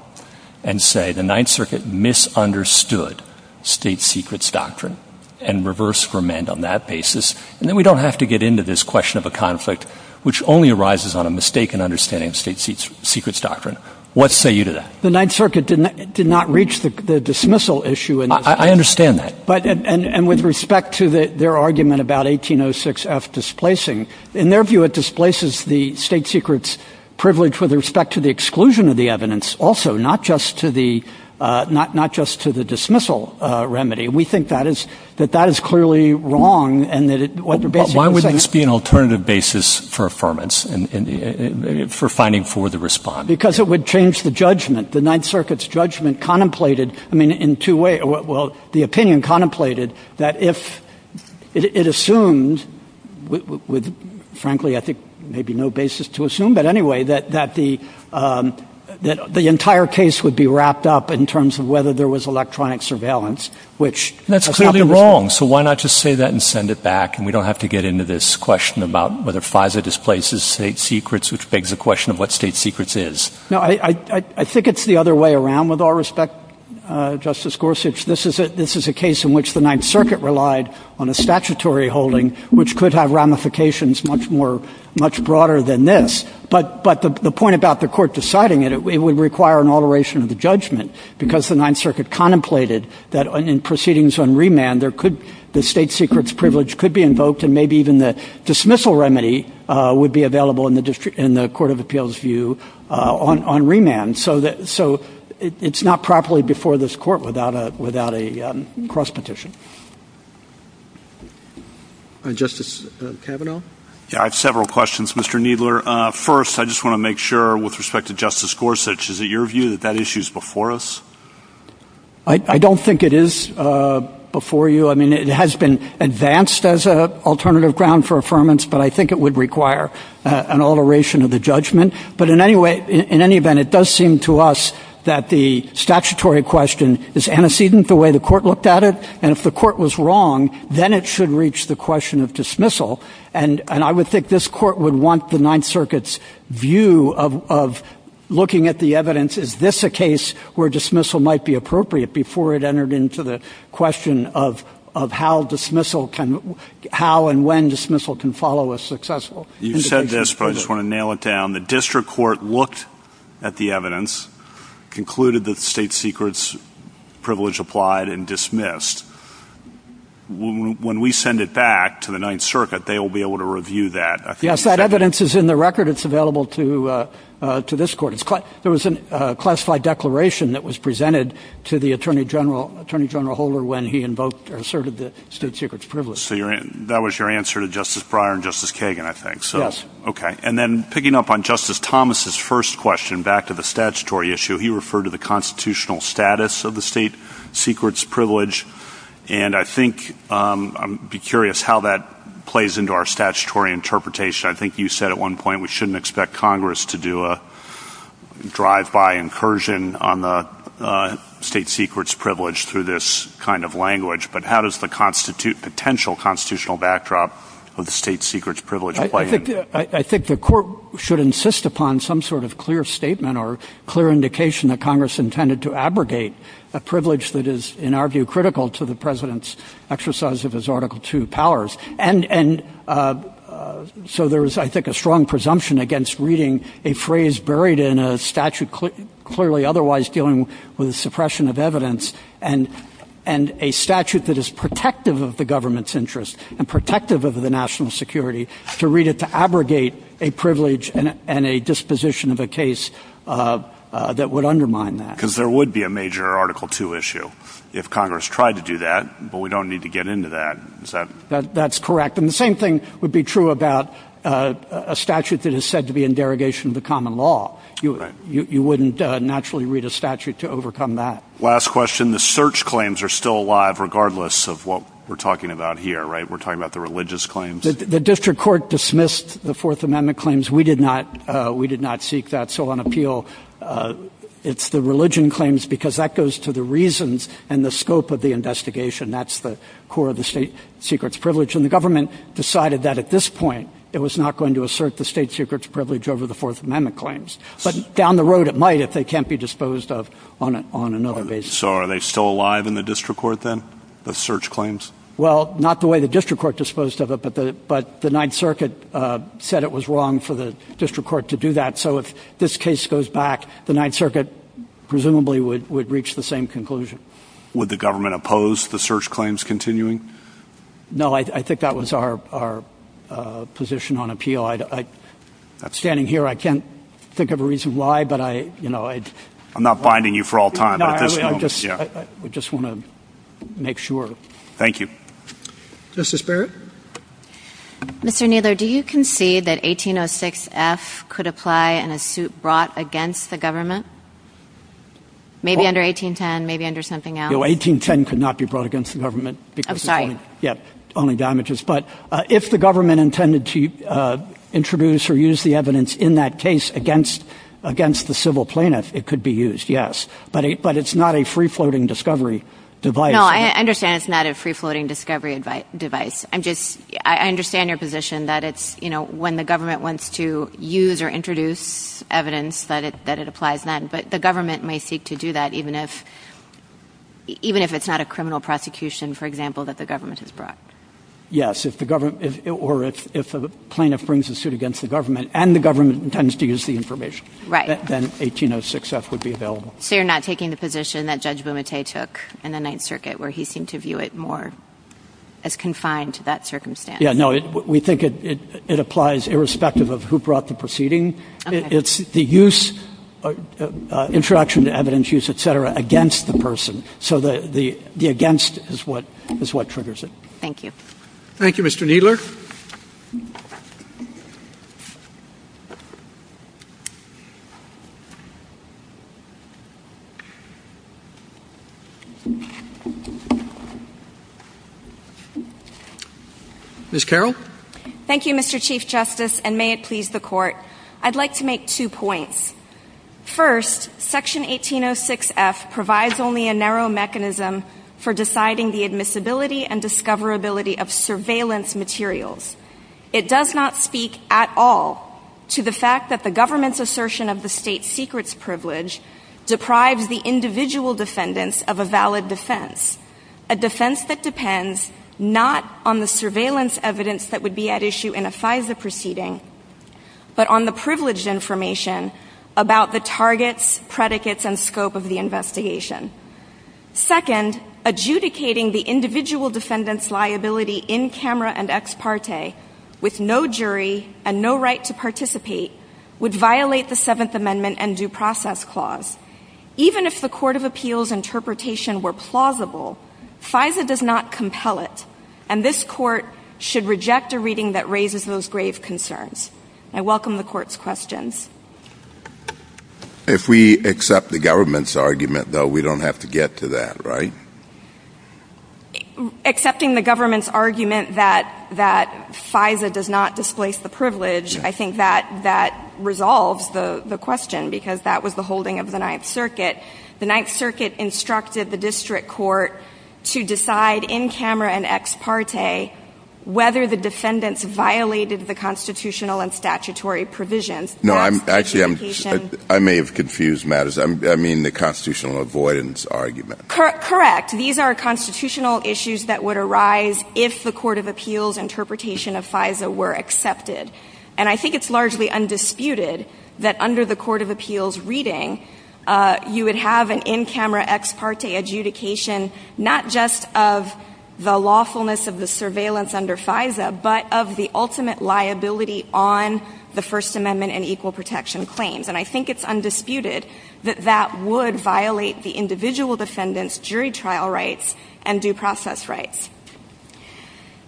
and say the Ninth Circuit misunderstood state secrets doctrine and reverse ferment on that basis. And then we don't have to get into this question of a conflict, which only arises on a mistaken understanding of state secrets doctrine. What say you to that? The Ninth Circuit did not reach the dismissal issue. I understand that. And with respect to their argument about 1806 F displacing, in their view, it displaces the state secrets privilege with respect to the exclusion of the evidence also, not just to the dismissal remedy. And we think that is that that is clearly wrong. And why would this be an alternative basis for affirmance and for finding for the response? Because it would change the judgment. The Ninth Circuit's judgment contemplated, I mean, in two ways. Well, the opinion contemplated that if it assumed with, frankly, I think maybe no basis to assume. But anyway, that the entire case would be wrapped up in terms of whether there was electronic surveillance, which that's clearly wrong. So why not just say that and send it back? And we don't have to get into this question about whether FISA displaces state secrets, which begs the question of what state secrets is. No, I think it's the other way around. With all respect, Justice Gorsuch, this is a case in which the Ninth Circuit relied on a statutory holding, which could have ramifications much more much broader than this. But the point about the court deciding that it would require an alteration of the judgment because the Ninth Circuit contemplated that in proceedings on remand, the state secrets privilege could be invoked and maybe even the dismissal remedy would be available in the Court of Appeals view on remand. So it's not properly before this court without a cross petition. Justice Kavanaugh? Yeah, I have several questions, Mr. Kneedler. First, I just want to make sure with respect to Justice Gorsuch, is it your view that that issue is before us? I don't think it is before you. I mean, it has been advanced as an alternative ground for affirmance, but I think it would require an alteration of the judgment. But in any way, in any event, it does seem to us that the statutory question is antecedent the way the court looked at it. And if the court was wrong, then it should reach the question of dismissal. And I would think this court would want the Ninth Circuit's view of looking at the evidence, is this a case where dismissal might be appropriate before it entered into the question of how and when dismissal can follow a successful indication. You said this, but I just want to nail it down. The district court looked at the evidence, concluded that the state secrets privilege applied and dismissed. When we send it back to the Ninth Circuit, they will be able to review that. Yes, that evidence is in the record. It's available to this court. Classified declaration that was presented to the Attorney General Holder when he invoked or asserted the state secrets privilege. So that was your answer to Justice Breyer and Justice Kagan, I think. Yes. Okay. And then picking up on Justice Thomas's first question, back to the statutory issue, he referred to the constitutional status of the state secrets privilege. And I think, I'm curious how that plays into our statutory interpretation. I think you said at one point, we shouldn't expect Congress to do a drive-by incursion on the state secrets privilege through this kind of language. But how does the potential constitutional backdrop of the state secrets privilege play in? I think the court should insist upon some sort of clear statement or clear indication that Congress intended to abrogate a privilege that is, in our view, critical to the President's exercise of his Article II powers. And so there is, I think, a strong presumption against reading a phrase buried in a statute clearly otherwise dealing with suppression of evidence and a statute that is protective of the government's interests and protective of the national security to read it to abrogate a privilege and a disposition of a case that would undermine that. Because there would be a major Article II issue if Congress tried to do that, but we don't need to get into that. Is that? That's correct. And the same thing would be true about a statute that is said to be in derogation of the common law. You wouldn't naturally read a statute to overcome that. Last question. The search claims are still alive regardless of what we're talking about here, right? We're talking about the religious claims. The district court dismissed the Fourth Amendment claims. We did not seek that. So on appeal, it's the religion claims because that goes to the and the government decided that at this point, it was not going to assert the state secrets privilege over the Fourth Amendment claims. But down the road, it might if they can't be disposed of on another basis. So are they still alive in the district court then? The search claims? Well, not the way the district court disposed of it, but the Ninth Circuit said it was wrong for the district court to do that. So if this case goes back, the Ninth Circuit presumably would reach the same conclusion. Would the government oppose the search claims continuing? No, I think that was our position on appeal. I'm standing here. I can't think of a reason why, but I, you know, I'm not biding you for all time. I just want to make sure. Thank you. Justice Barrett? Mr. Kneedler, do you concede that 1806F could apply in a suit brought against the government? Maybe under 1810, maybe under something else? 1810 could not be brought against the government. I'm sorry. Yeah, only damages. But if the government intended to introduce or use the evidence in that case against the civil plaintiff, it could be used, yes. But it's not a free-floating discovery device. No, I understand it's not a free-floating discovery device. I'm just, I understand your position that it's, you know, when the government wants to use or introduce evidence, that it applies then. But the government may seek to do that even if, even if it's not a criminal prosecution, for example, that the government has brought. Yes, if the government, or if a plaintiff brings a suit against the government and the government intends to use the information, then 1806F would be available. So you're not taking the position that Judge Bumate took in the Ninth Circuit, where he seemed to view it more as confined to that circumstance? Yeah, no, we think it applies irrespective of who brought the proceeding. It's the use, interaction, evidence use, et cetera, against the person. So the against is what triggers it. Thank you. Thank you, Mr. Kneedler. Ms. Carroll? Thank you, Mr. Chief Justice, and may it please the Court. I'd like to make two points. First, Section 1806F provides only a narrow mechanism for deciding the admissibility and discoverability of surveillance materials. It does not speak at all to the fact that the government's assertion of the state secret's privilege deprives the individual defendants of a valid defense, a defense that depends not on the surveillance evidence that would be at issue in a FISA proceeding, but on the privileged information about the targets, predicates, and scope of the investigation. Second, adjudicating the individual defendant's liability in camera and ex parte with no jury and no right to participate would violate the Seventh Amendment and Due Process Clause. Even if the Court of Appeals' interpretations were plausible, FISA does not compel it, and this Court should reject a reading that argues that FISA does not displace the privilege. I think that that resolves the question, because that was the holding of the Ninth Circuit. The Ninth Circuit instructed the district court to decide in camera and ex parte whether the defendants violated the constitutional and avoidance argument. Correct. These are constitutional issues that would arise if the Court of Appeals' interpretation of FISA were accepted, and I think it's largely undisputed that under the Court of Appeals' reading, you would have an in camera ex parte adjudication, not just of the lawfulness of the surveillance under FISA, but of the ultimate liability on the First Amendment and equal protection claims. And I think it's undisputed that that would violate the individual defendant's jury trial rights and due process rights.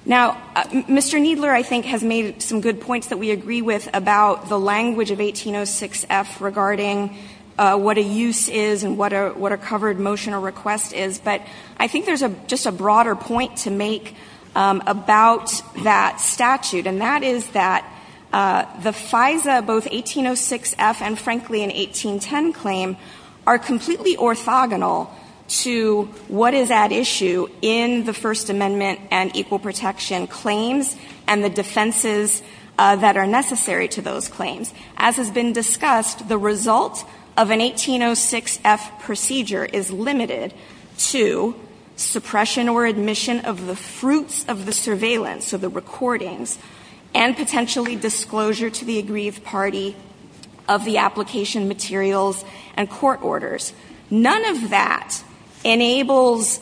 Now, Mr. Kneedler, I think, has made some good points that we agree with about the language of 1806F regarding what a use is and what a covered motion or request is, but I think there's just a the FISA, both 1806F and, frankly, an 1810 claim, are completely orthogonal to what is at issue in the First Amendment and equal protection claims and the defenses that are necessary to those claims. As has been discussed, the result of an 1806F procedure is limited to suppression or to the aggrieved party of the application materials and court orders. None of that enables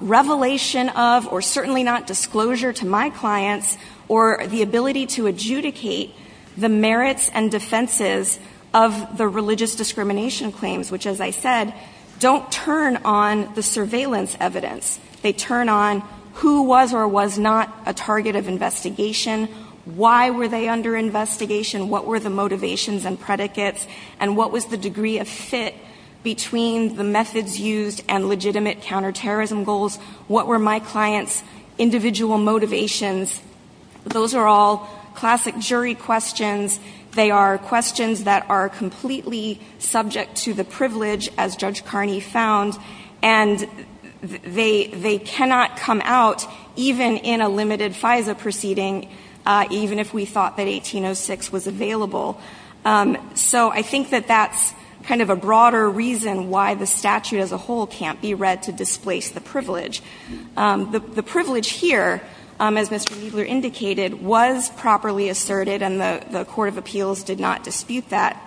revelation of, or certainly not disclosure to my clients, or the ability to adjudicate the merits and defenses of the religious discrimination claims, which, as I said, don't turn on the surveillance evidence. They turn on who was or was not a target of investigation, why were they under investigation, what were the motivations and predicates, and what was the degree of fit between the methods used and legitimate counterterrorism goals, what were my clients' individual motivations. Those are all classic jury questions. They are questions that are completely subject to the privilege, as Judge Carney found, and they cannot come out, even in a limited FISA proceeding, even if we thought that 1806 was available. So I think that that's kind of a broader reason why the statute as a whole can't be read to displace the privilege. The privilege here, as Mr. Riesler indicated, was properly asserted, and the Court of Appeals did not dispute that.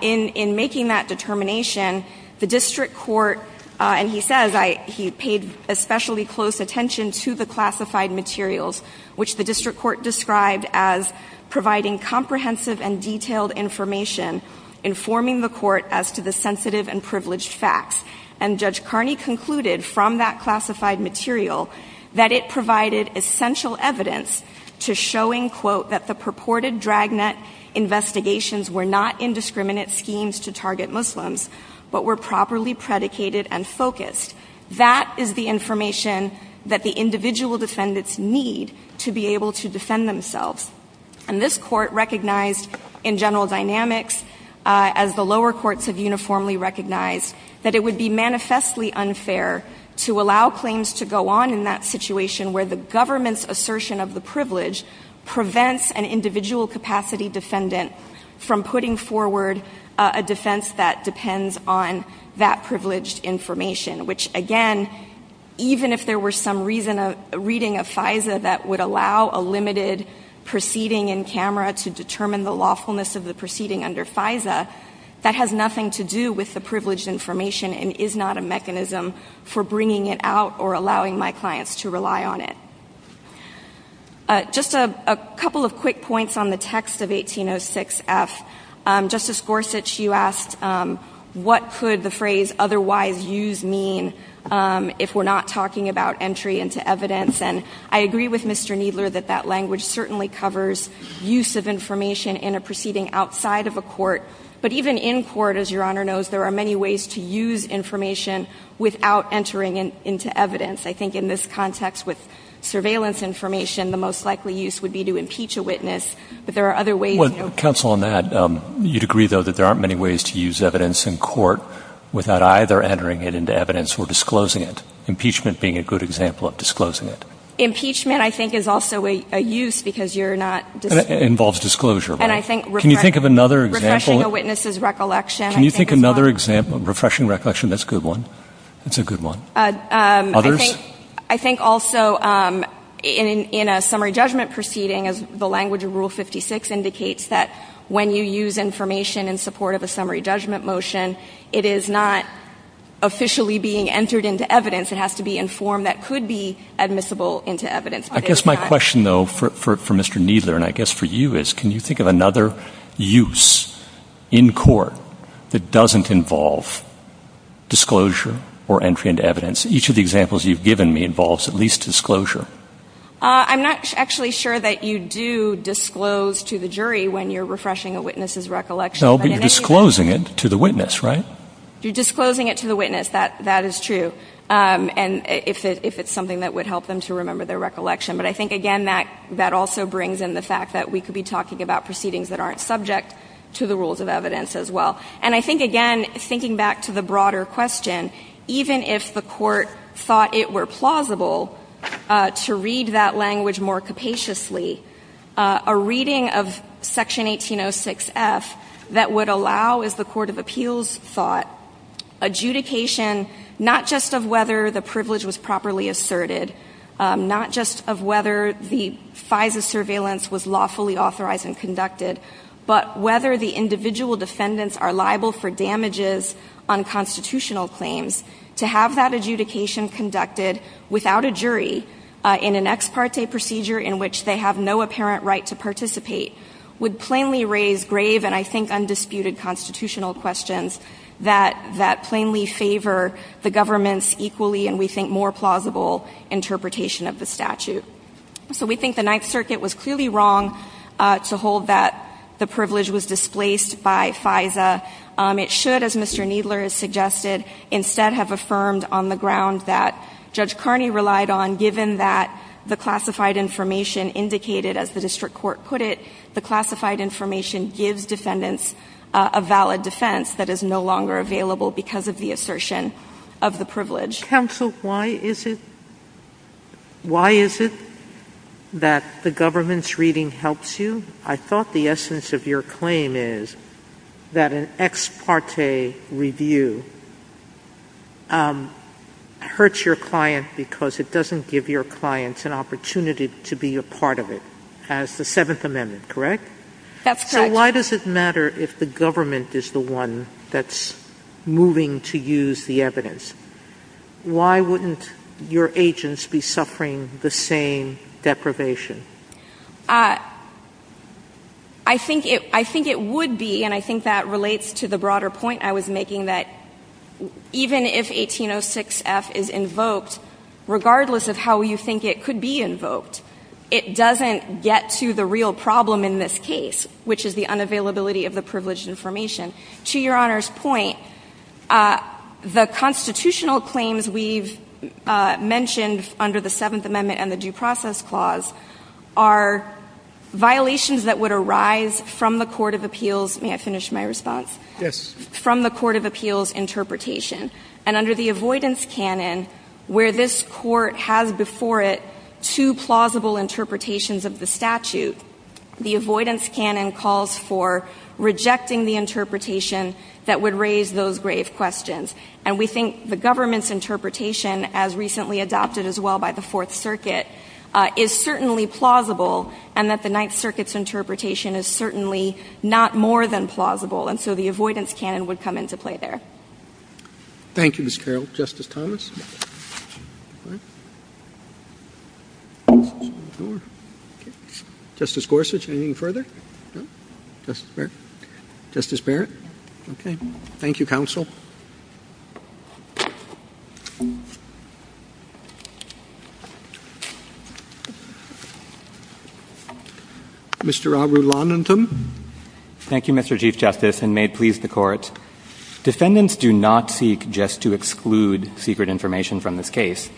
In making that determination, the district court, and he says, he paid especially close attention to the classified materials, which the district court described as providing comprehensive and detailed information informing the court as to the sensitive and privileged facts, and Judge Carney concluded from that classified material that it provided essential evidence to showing, quote, that the purported dragnet investigations were not indiscriminate schemes to target Muslims, but were properly predicated and focused. That is the information that the individual defendants need to be able to defend themselves, and this court recognized in general dynamics, as the lower courts have uniformly recognized, that it would be manifestly unfair to allow claims to go on in that situation where the government's assertion of the privilege prevents an individual capacity defendant from putting forward a defense that depends on that privileged information, which again, even if there were some reading of FISA that would allow a limited proceeding in camera to determine the lawfulness of the proceeding under FISA, that has nothing to do with the privileged information and is not a mechanism for bringing it out or allowing my clients to rely on it. Just a couple of quick points on the text of 1806F. Justice Gorsuch, you asked what could the phrase otherwise use mean if we're not talking about entry into evidence, and I agree with Mr. Needler that that language certainly covers use of information in a proceeding outside of a court, but even in court, as Your Honor knows, there are many ways to use information without entering into evidence. I think in this context with surveillance information, the most likely use would be to impeach a witness, but there are other ways. Counsel on that, you'd agree though that there aren't many ways to use evidence in court without either entering it into evidence or disclosing it, impeachment being a good example of disclosing it. Impeachment I think is also a use because you're not disclosing it. It involves disclosure, right? Can you think of another example? Refreshing a witness's recollection. Can you think of another example? Refreshing recollection, that's a good one. Others? I think also in a summary judgment proceeding, the language of Rule 56 indicates that when you use information in support of a summary judgment motion, it is not officially being entered into evidence. It has to be in form that could be for Mr. Kneedler and I guess for you is, can you think of another use in court that doesn't involve disclosure or entry into evidence? Each of the examples you've given me involves at least disclosure. I'm not actually sure that you do disclose to the jury when you're refreshing a witness's recollection. You're disclosing it to the witness, right? You're disclosing it to the witness, that is true, and if it's something that would help them to remember their recollection, but I think again that also brings in the fact that we could be talking about proceedings that aren't subject to the rules of evidence as well. And I think again, thinking back to the broader question, even if the court thought it were plausible to read that language more capaciously, a reading of Section 1806F that would allow, as the Court of Appeals thought, adjudication not just of whether the privilege was properly asserted, not just of whether the size of surveillance was lawfully authorized and conducted, but whether the individual defendants are liable for damages on constitutional claims. To have that adjudication conducted without a jury in an ex parte procedure in which they have no apparent right to participate would plainly raise grave and I think equally and we think more plausible interpretation of the statute. So we think the Ninth Circuit was clearly wrong to hold that the privilege was displaced by FISA. It should, as Mr. Needler has suggested, instead have affirmed on the ground that Judge Carney relied on, given that the classified information indicated, as the district court put it, the classified information gives defendants a valid defense that is no longer available because of the assertion of the privilege. Counsel, why is it that the government's reading helps you? I thought the essence of your claim is that an ex parte review hurts your client because it doesn't give your client an opportunity to be a part of it, as the Seventh Amendment, correct? That's correct. So why does it matter if the government is the one that's moving to use the evidence? Why wouldn't your agents be suffering the same deprivation? I think it would be, and I think that relates to the broader point I was making, that even if 1806 F is invoked, regardless of how you think it could be invoked, it doesn't get to the real problem in this case, which is the unavailability of the privileged information. To Your Honor's point, the constitutional claims we've mentioned under the Seventh Amendment and the Due Process Clause are violations that would arise from the court of appeals, may I finish my response? Yes. From the court of appeals interpretation. And under the avoidance canon, where this court has before it two plausible interpretations of the statute, the avoidance canon calls for rejecting the interpretation that would raise those grave questions. And we think the government's interpretation, as recently adopted as well by the Fourth Circuit, is certainly plausible, and that the Ninth Circuit's interpretation is certainly not more than plausible. And so the avoidance canon would come into play there. Thank you, Ms. Carroll. Justice Thomas? Justice Gorsuch, anything further? Justice Barrett? Okay. Thank you, counsel. Mr. Aubrey Londington? Thank you, Mr. Chief Justice, and may it please the court. Defendants do not seek just to exclude secret information from this case.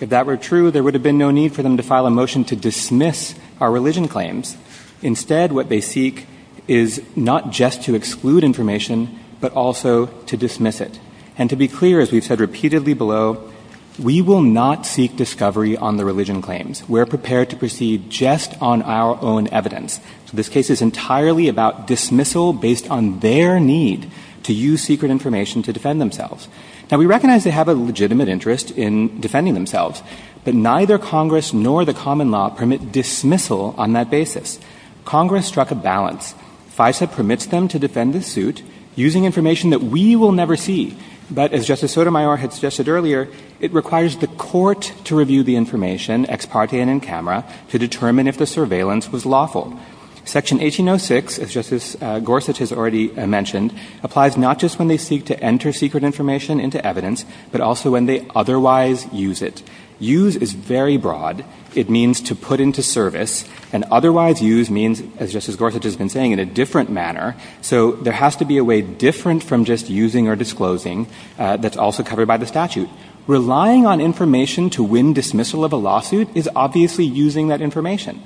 If that were true, there would have been no need for them to file a motion to dismiss our religion claims. Instead, what they seek is not just to exclude information, but also to dismiss it. And to be clear, as we've said repeatedly below, we will not seek discovery on the religion claims. We're prepared to proceed just on our own evidence. So this case is entirely about dismissal based on their need to use secret information to defend themselves. Now, we recognize they have a legitimate interest in defending themselves, but neither Congress nor the common law permit dismissal on that basis. Congress struck a balance. FISA permits them to defend the suit using information that we will never see. But as Justice Sotomayor had suggested earlier, it requires the court to review the camera to determine if the surveillance was lawful. Section 1806, as Justice Gorsuch has already mentioned, applies not just when they seek to enter secret information into evidence, but also when they otherwise use it. Use is very broad. It means to put into service, and otherwise use means, as Justice Gorsuch has been saying, in a different manner. So there has to be a way different from just using or disclosing that's also covered by the statute. Relying on information to win dismissal of a lawsuit is obviously using that information.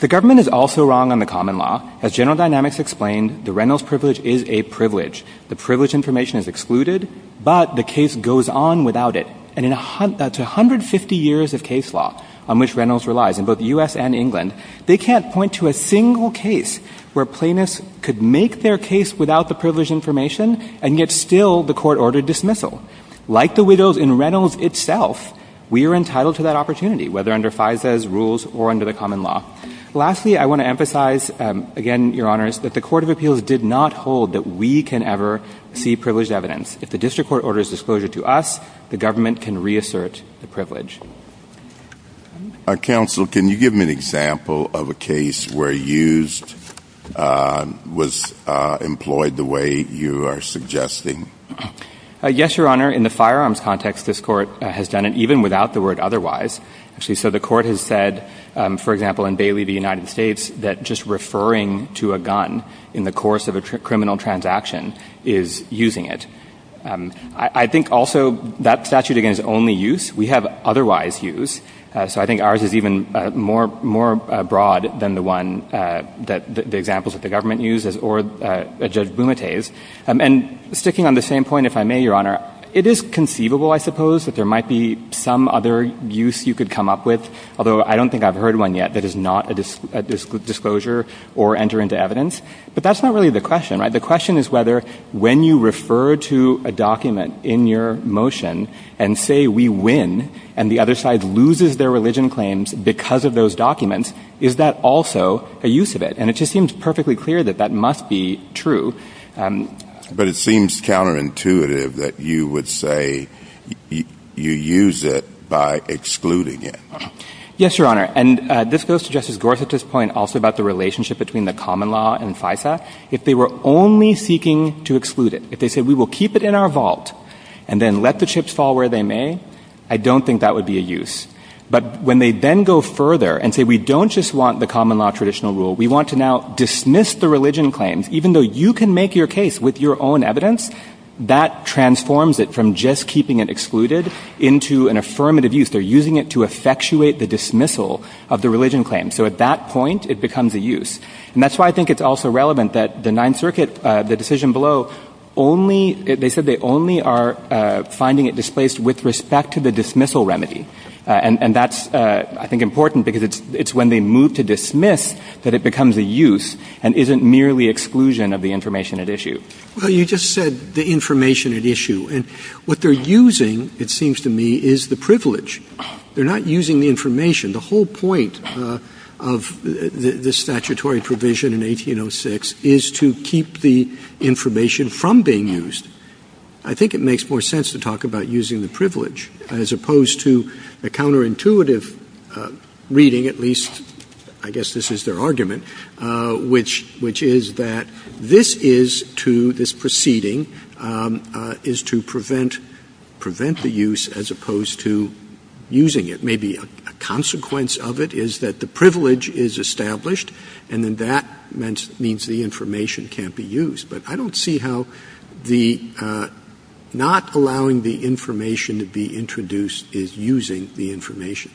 The government is also wrong on the common law. As General Dynamics explained, the Reynolds privilege is a privilege. The privilege information is excluded, but the case goes on without it. And in 150 years of case law, on which Reynolds relies in both U.S. and England, they can't point to a single case where plaintiffs could make their case without privilege information and get still the court-ordered dismissal. Like the widows in Reynolds itself, we are entitled to that opportunity, whether under FISA's rules or under the common law. Lastly, I want to emphasize, again, Your Honors, that the Court of Appeals did not hold that we can ever see privileged evidence. If the district court orders disclosure to us, the government can reassert the privilege. Our counsel, can you give me an example of a case where used was employed the way you are suggesting? Yes, Your Honor. In the firearms context, this court has done it even without the word otherwise. Actually, so the court has said, for example, in Bailey v. United States, that just referring to a gun in the course of a criminal transaction is using it. I think also that statute, again, is only use. We have otherwise use. So I think ours is even more broad than the one that the examples that the government uses or Judge Bumate's. Sticking on the same point, if I may, Your Honor, it is conceivable, I suppose, that there might be some other use you could come up with, although I don't think I've heard one yet that is not disclosure or enter into evidence. But that's not really the question, right? The question is when you refer to a document in your motion and say we win and the other side loses their religion claims because of those documents, is that also a use of it? And it just seems perfectly clear that that must be true. But it seems counterintuitive that you would say you use it by excluding it. Yes, Your Honor. And this goes to Justice Gorsuch's point also the relationship between the common law and FISA. If they were only seeking to exclude it, if they said we will keep it in our vault and then let the chips fall where they may, I don't think that would be a use. But when they then go further and say we don't just want the common law traditional rule, we want to now dismiss the religion claims, even though you can make your case with your own evidence, that transforms it from just keeping it excluded into an affirmative use. They're using it to effectuate the dismissal of the religion claim. So at that point, it becomes a use. And that's why I think it's also relevant that the Ninth Circuit, the decision below, they said they only are finding it displaced with respect to the dismissal remedy. And that's, I think, important because it's when they move to dismiss that it becomes a use and isn't merely exclusion of the information at issue. Well, you just said the information at issue. And what they're using, it seems to me, is the privilege. They're not using the information. The whole point of the statutory provision in 1806 is to keep the information from being used. I think it makes more sense to talk about using the privilege as opposed to the counterintuitive reading, at least, I guess this is their argument, which is that this is to, this proceeding, is to prevent the use as opposed to using it. Maybe a consequence of it is that the privilege is established, and then that means the information can't be used. But I don't see how the not allowing the information to be introduced is using the information.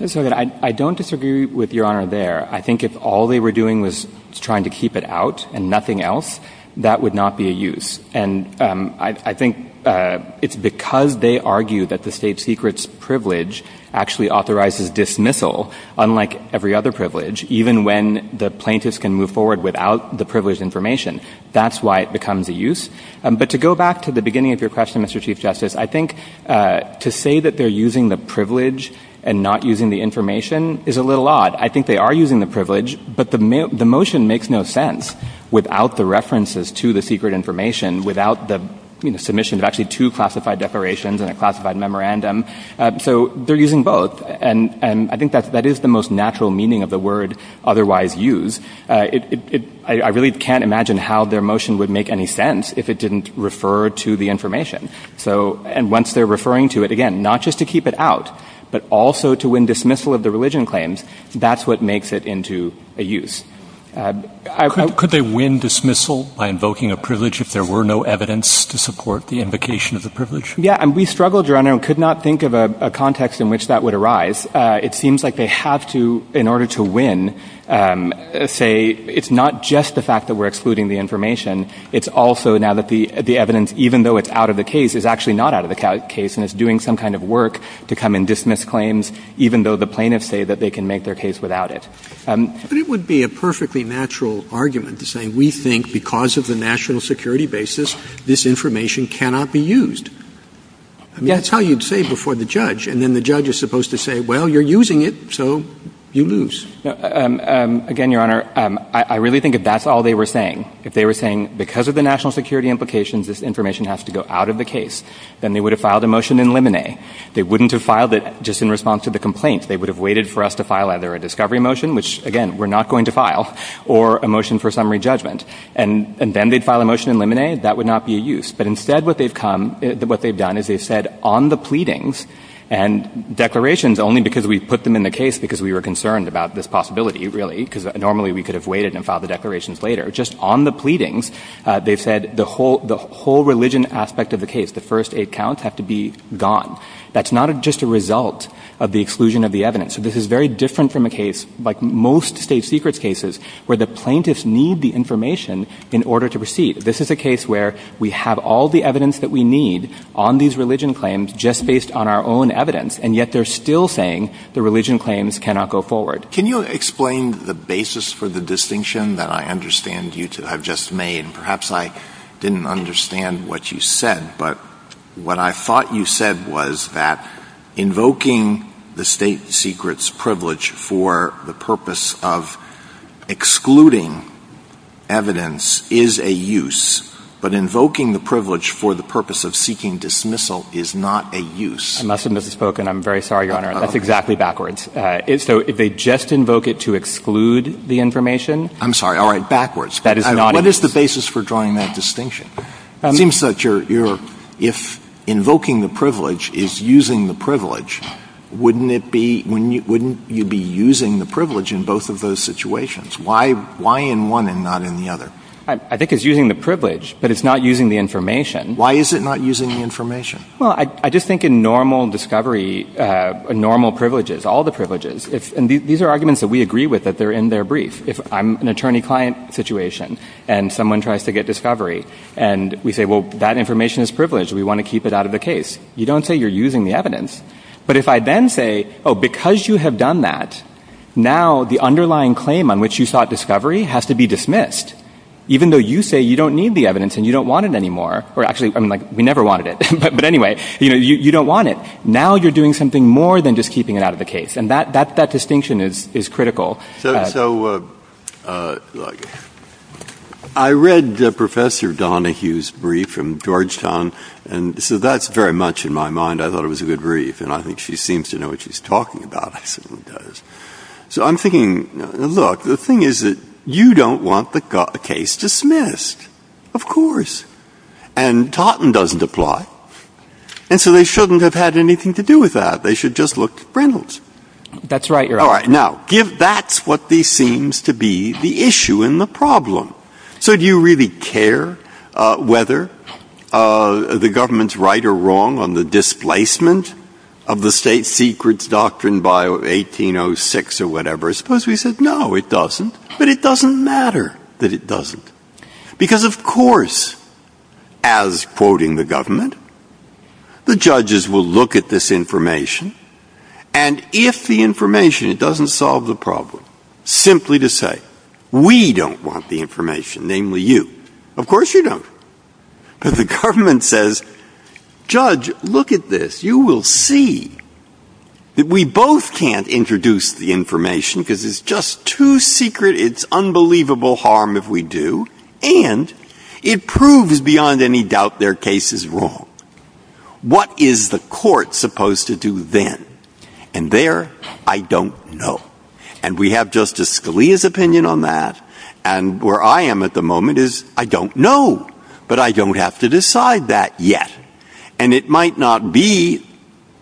I don't disagree with Your Honor there. I think if all they were doing was trying to keep it out and nothing else, that would not be a use. And I think it's because they argue that the state secret's privilege actually authorizes dismissal, unlike every other privilege, even when the plaintiffs can move forward without the privileged information. That's why it becomes a use. But to go back to the beginning of your question, Mr. Chief Justice, I think to say that they're using the privilege and not using the information is a little odd. I think they are using the privilege, but the motion makes no sense without the references to the secret information, without the submission of actually two classified declarations and a classified memorandum. So they're using both. And I think that is the most natural meaning of the word otherwise used. I really can't imagine how their motion would make any sense if it didn't refer to the information. And once they're referring to it, again, not just to keep it out, but also to win dismissal of the religion claims, that's what makes it into a use. Could they win dismissal by invoking a privilege if there were no evidence to support the invocation of the privilege? Yeah, and we struggled around and could not think of a context in which that would arise. It seems like they have to, in order to win, say it's not just the fact that we're excluding the information. It's also now that the evidence, even though it's out of the case, is actually not out of the case. And it's doing some kind of work to come and dismiss claims, even though the plaintiffs say that they can make their case without it. But it would be a perfectly natural argument to say we think because of the national security basis, this information cannot be used. That's how you'd say before the judge. And then the judge is supposed to say, well, you're using it, so you lose. Again, Your Honor, I really think if that's all they were saying, if they were saying because of the national security implications, this then they would have filed a motion in limine. They wouldn't have filed it just in response to the complaint. They would have waited for us to file either a discovery motion, which, again, we're not going to file, or a motion for summary judgment. And then they'd file a motion in limine. That would not be a use. But instead what they've done is they've said on the pleadings and declarations, only because we've put them in the case because we were concerned about this possibility, really, because normally we could have waited and filed the declarations later. Just on the pleadings, they've said the whole religion aspect of the case, the first eight counts, have to be gone. That's not just a result of the exclusion of the evidence. So this is very different from a case, like most state secrets cases, where the plaintiffs need the information in order to proceed. This is a case where we have all the evidence that we need on these religion claims just based on our own evidence, and yet they're still saying the religion claims cannot go forward. Can you explain the basis for the distinction that I understand you to have just made? Perhaps I didn't understand what you said, but what I thought you said was that invoking the state secret's privilege for the purpose of excluding evidence is a use, but invoking the privilege for the purpose of seeking dismissal is not a use. I mustn't have spoken. I'm very sorry, Your Honor. That's exactly backwards. So if they just invoke it to exclude the information? I'm sorry. All right. Backwards. What is the basis for drawing that distinction? It seems that if invoking the privilege is using the privilege, wouldn't you be using the privilege in both of those situations? Why in one and not in the other? I think it's using the privilege, but it's not using the information. Why is it not using the information? Well, I just think in normal discovery, normal privileges, all the privileges, and these are arguments that we agree with that they're in their brief. If I'm an attorney-client situation, and someone tries to get discovery, and we say, well, that information is privileged. We want to keep it out of the case. You don't say you're using the evidence, but if I then say, oh, because you have done that, now the underlying claim on which you sought discovery has to be dismissed, even though you say you don't need the evidence and you don't want it anymore, or actually, I mean, like, we never wanted it, but anyway, you know, you don't want it. Now you're doing something more than just keeping it out of the case. And that distinction is critical. So I read Professor Donahue's brief from Georgetown. And so that's very much in my mind. I thought it was a good brief. And I think she seems to know what she's talking about. So I'm thinking, look, the thing is that you don't want the case dismissed, of course. And Totten doesn't apply. And so they shouldn't have had anything to do with that. They should just look at Reynolds. That's right. All right. Now, give that's what these seems to be the issue and the problem. So do you really care whether the government's right or wrong on the displacement of the state secrets doctrine by 1806 or whatever? Suppose we said, no, it doesn't. But it doesn't matter that it doesn't. Because of course, as quoting the government, the judges will look at this information. And if the information it doesn't solve the problem, simply to say, we don't want the information, namely you, of course you don't. Because the government says, judge, look at this, you will see that we both can't introduce the information because it's just too secret, it's unbelievable harm if we do. And it proves beyond any doubt their case is wrong. What is the court supposed to do then? And there, I don't know. And we have Justice Scalia's opinion on that. And where I am at the moment is I don't know. But I don't have to decide that yet. And it might not be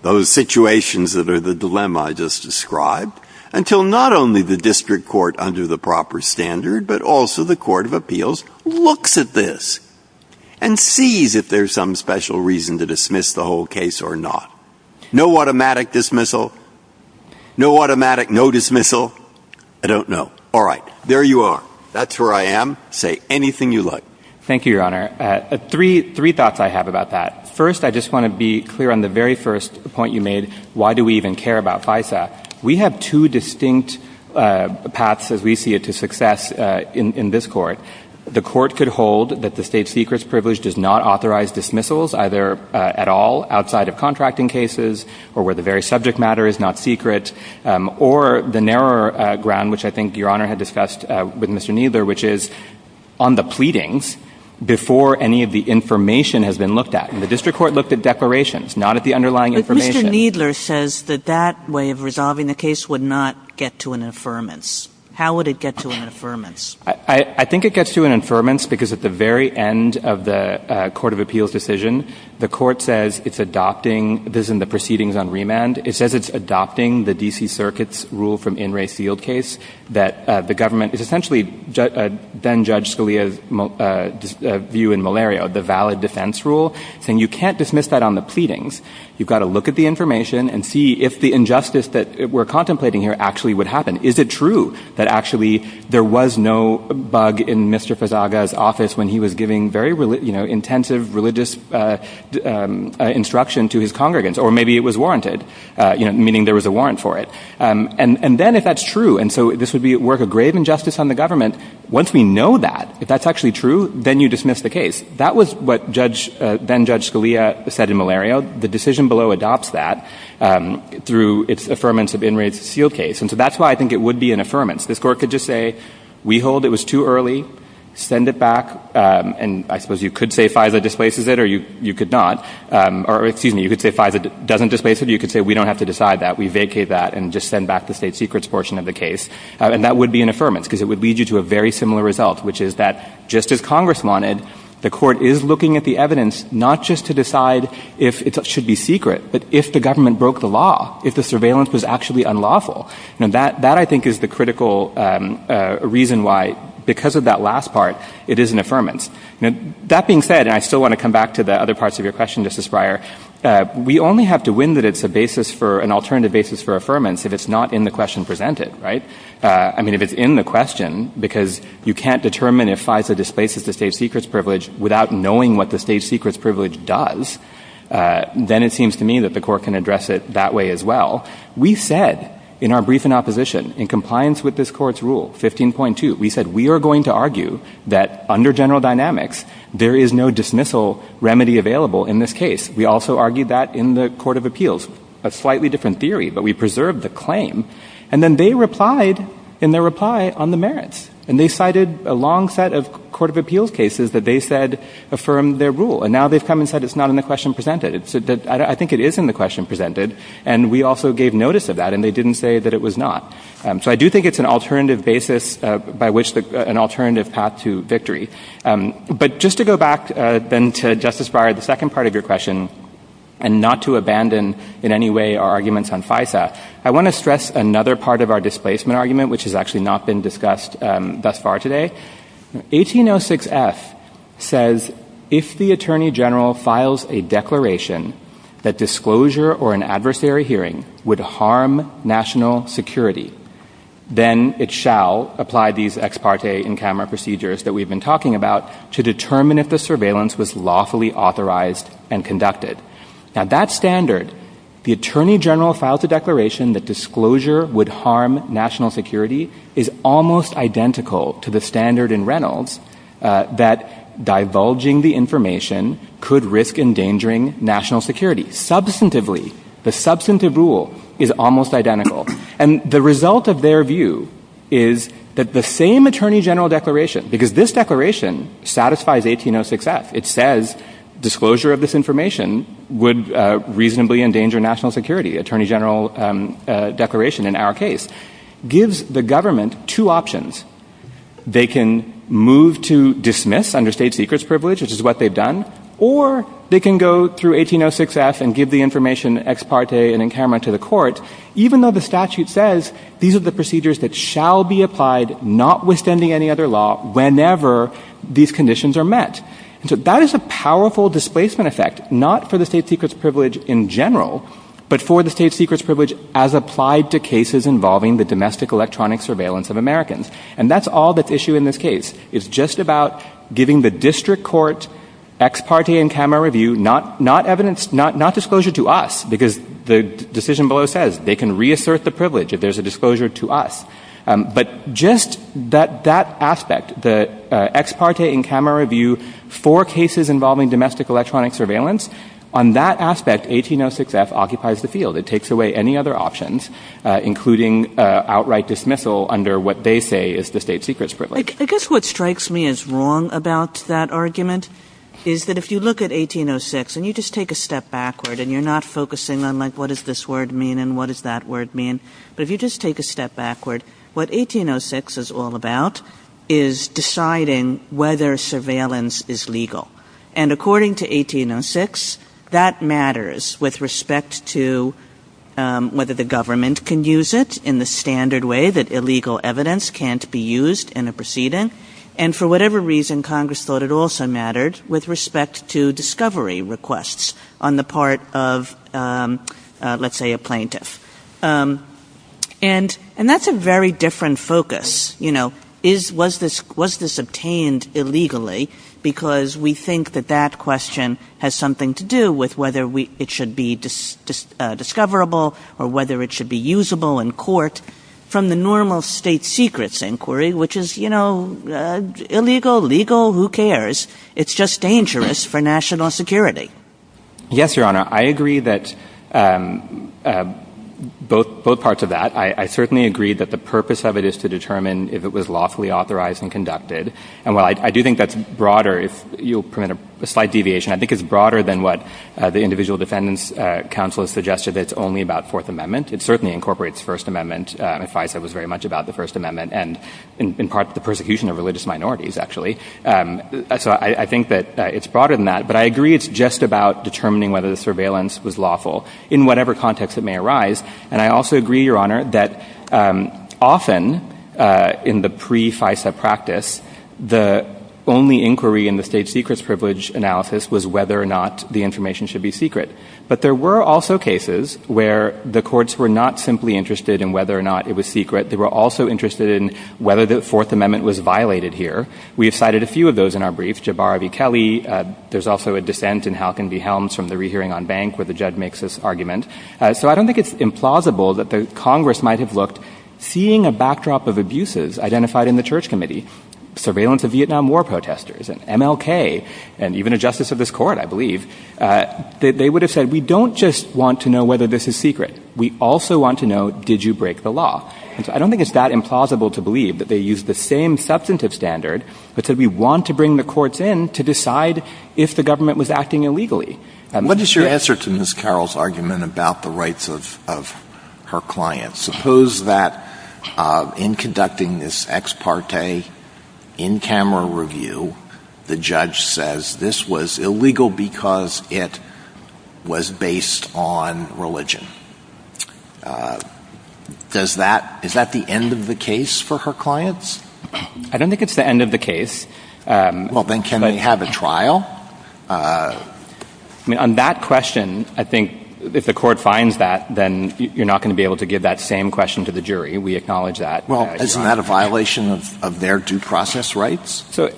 those situations that are the dilemma I just described until not only the district court under the proper standard, but also the Court of Appeals looks at this and sees if there's some special reason to dismiss the whole case or not. No automatic dismissal? No automatic no dismissal? I don't know. All right. There you are. That's where I am. Say anything you like. Thank you, Your Honor. Three thoughts I have about that. First, I just want to be clear on the very first point you made, why do we even care about FISA? We have two distinct paths, as we see it, to success in this court. The court could hold that the state secrets privilege does not authorize dismissals either at all outside of contracting cases or where the very subject matter is not secret. Or the narrower ground, which I think Your Honor had discussed with Mr. Kneedler, which is on the pleadings before any of the information has been looked at. And the district court looked at declarations, not at the underlying information. But Mr. Kneedler says that that way of resolving the case would not get to an affirmance. How would it get to an affirmance? I think it gets to an affirmance because at the very end of the Court of Appeals decision, the court says it's adopting this in the proceedings on remand. It says it's adopting the D.C. Circuit's rule from In re Field case that the government is essentially, then Judge Scalia's view in malaria, the valid defense rule. And you can't dismiss that on the pleadings. You've got to look at the information and see if the injustice that we're contemplating here actually would happen. Is it true that actually there was no bug in Mr. Pezaga's office when he was giving very, you know, intensive religious instruction to his congregants? Or maybe it was warranted, you know, meaning there was a warrant for it. And then if that's true, and so this would be worth a grave injustice on the government. Once we know that, if that's actually true, then you dismiss the case. That was what Judge, then Judge Scalia said in malaria. The decision below adopts that through its affirmance of In re Field case. And so that's why I think it would be an affirmance. This court could just say, we hold it was too early, send it back. And I suppose you could say FISA displaces it or you could not. Or excuse me, you could say FISA doesn't displace it. You could say we don't have to decide that. We vacate that and just send back the state secrets portion of the case. And that would be an affirmance because it would lead you to a very similar result, which is that just as Congress wanted, the court is looking at the evidence not just to decide if it should be secret, but if the government broke the law, if the surveillance was actually unlawful. And that I think is the critical reason why, because of that last part, it is an affirmance. Now, that being said, and I still want to come to the other parts of your question, Justice Breyer, we only have to win that it's a basis for an alternative basis for affirmance if it's not in the question presented, right? I mean, if it's in the question, because you can't determine if FISA displaces the state secrets privilege without knowing what the state secrets privilege does, then it seems to me that the court can address it that way as well. We said in our brief in opposition, in compliance with this court's rule, 15.2, we said we are going to argue that under general dynamics, there is no dismissal remedy available in this case. We also argued that in the court of appeals, a slightly different theory, but we preserved the claim. And then they replied in their reply on the merits. And they cited a long set of court of appeals cases that they said affirmed their rule. And now they've come and said, it's not in the question presented. I think it is in the question presented. And we also gave notice of that and they didn't say that it was not. So I do think it's an alternative basis by which an alternative path to victory. But just to go back then to the second part of your question and not to abandon in any way our arguments on FISA, I want to stress another part of our displacement argument, which has actually not been discussed thus far today. 1806s says, if the attorney general files a declaration that disclosure or an adversary hearing would harm national security, then it shall apply these ex parte in-camera procedures that we've been talking about to determine if the surveillance was lawfully authorized and conducted. Now that standard, the attorney general filed a declaration that disclosure would harm national security is almost identical to the standard in Reynolds that divulging the information could risk endangering national security. Substantively, the substantive rule is almost identical. And the result of their view is that the same attorney general declaration, because this declaration satisfies 1806s, it says disclosure of this information would reasonably endanger national security, attorney general declaration in our case, gives the government two options. They can move to dismiss under state secrets privilege, which is what they've done, or they can go through 1806s and give the information ex parte and in-camera to the court, even though the statute says these are the procedures that whenever these conditions are met. So that is a powerful displacement effect, not for the state secrets privilege in general, but for the state secrets privilege as applied to cases involving the domestic electronic surveillance of Americans. And that's all the issue in this case. It's just about giving the district court ex parte in-camera review, not disclosure to us, because the decision below says they can reassert the privilege if there's a disclosure to us. But just that aspect, the ex parte in-camera review for cases involving domestic electronic surveillance, on that aspect, 1806s occupies the field. It takes away any other options, including outright dismissal under what they say is the state secrets privilege. I guess what strikes me as wrong about that argument is that if you look at 1806 and you just take a step backward and you're not focusing on like, what does this word mean and what does that word mean? But if you just take a step backward, what 1806 is all about is deciding whether surveillance is legal. And according to 1806, that matters with respect to whether the government can use it in the standard way that illegal evidence can't be used in a proceeding. And for whatever reason, Congress thought it also mattered with respect to plaintiff. And that's a very different focus. Was this obtained illegally? Because we think that that question has something to do with whether it should be discoverable or whether it should be usable in court from the normal state secrets inquiry, which is illegal, legal, who cares? It's just dangerous for national security. Yes, Your Honor, I agree that both parts of that. I certainly agree that the purpose of it is to determine if it was lawfully authorized and conducted. And while I do think that's broader, if you'll permit a slight deviation, I think it's broader than what the individual defendants counsel has suggested. It's only about Fourth Amendment. It certainly incorporates First Amendment. And if I said it was very much about the First Amendment and in part the persecution of religious minorities, actually, so I think that it's broader than that. But I agree it's just about determining whether the surveillance was lawful in whatever context it may arise. And I also agree, Your Honor, that often in the pre-FISA practice, the only inquiry in the state secrets privilege analysis was whether or not the information should be secret. But there were also cases where the courts were not simply interested in whether or not it was secret. They were also interested in whether the Fourth Amendment was violated here. We have cited a few of those in our brief, Jabari v. Kelly. There's also a dissent in Halkin v. Helms from the Rehearing on Bank, where the judge makes this argument. So I don't think it's implausible that the Congress might have looked, seeing a backdrop of abuses identified in the Church Committee, surveillance of Vietnam War protesters, and MLK, and even a justice of this court, I believe, they would have said, we don't just want to know whether this is secret. We also want to know, did you break the law? I don't think it's that implausible to believe that they used the same substantive standard that said we want to bring the courts in to decide if the government was acting illegally. What is your answer to Ms. Carroll's argument about the rights of her clients? Suppose that in conducting this ex parte, in camera review, the judge says this was illegal because it was based on religion. Is that the end of the case for her clients? I don't think it's the end of the case. Well, then can they have a trial? On that question, I think if the court finds that, then you're not going to be able to give that same question to the jury. We acknowledge that. Well, isn't that a violation of their due process rights? So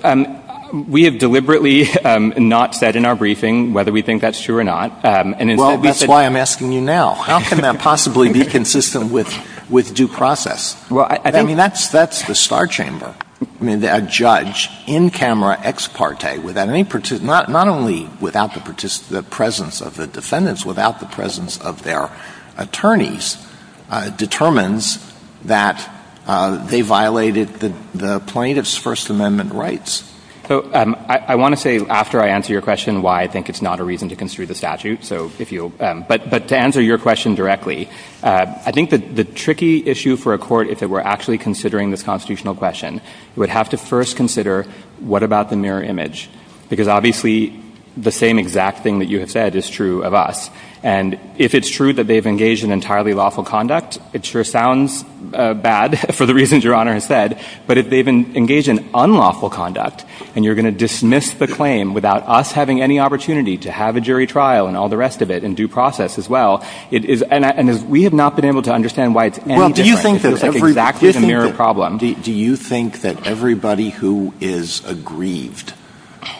we have deliberately not said in our briefing whether we think that's true or not. Well, that's why I'm asking you now. How can that possibly be consistent with due process? I mean, that's the star chamber. A judge in camera ex parte, not only without the presence of the defendants, without the presence of their attorneys, determines that they violated the plaintiff's First Amendment rights. So I want to say, after I answer your question, why I think it's not a reason to consider the statute. But to answer your question directly, I think that the tricky issue for a court is that we're actually considering this constitutional question. We would have to first consider, what about the mirror image? Because obviously, the same exact thing that you have said is true of us. And if it's true that they've engaged in entirely lawful conduct, it sure sounds bad for the reasons Your Honor has said. But if they've engaged in unlawful conduct, and you're going to dismiss the claim without us having any opportunity to have a jury trial and all the rest of it in due process as well. And we have not been able to understand why it's any different. Well, do you think that everybody who is aggrieved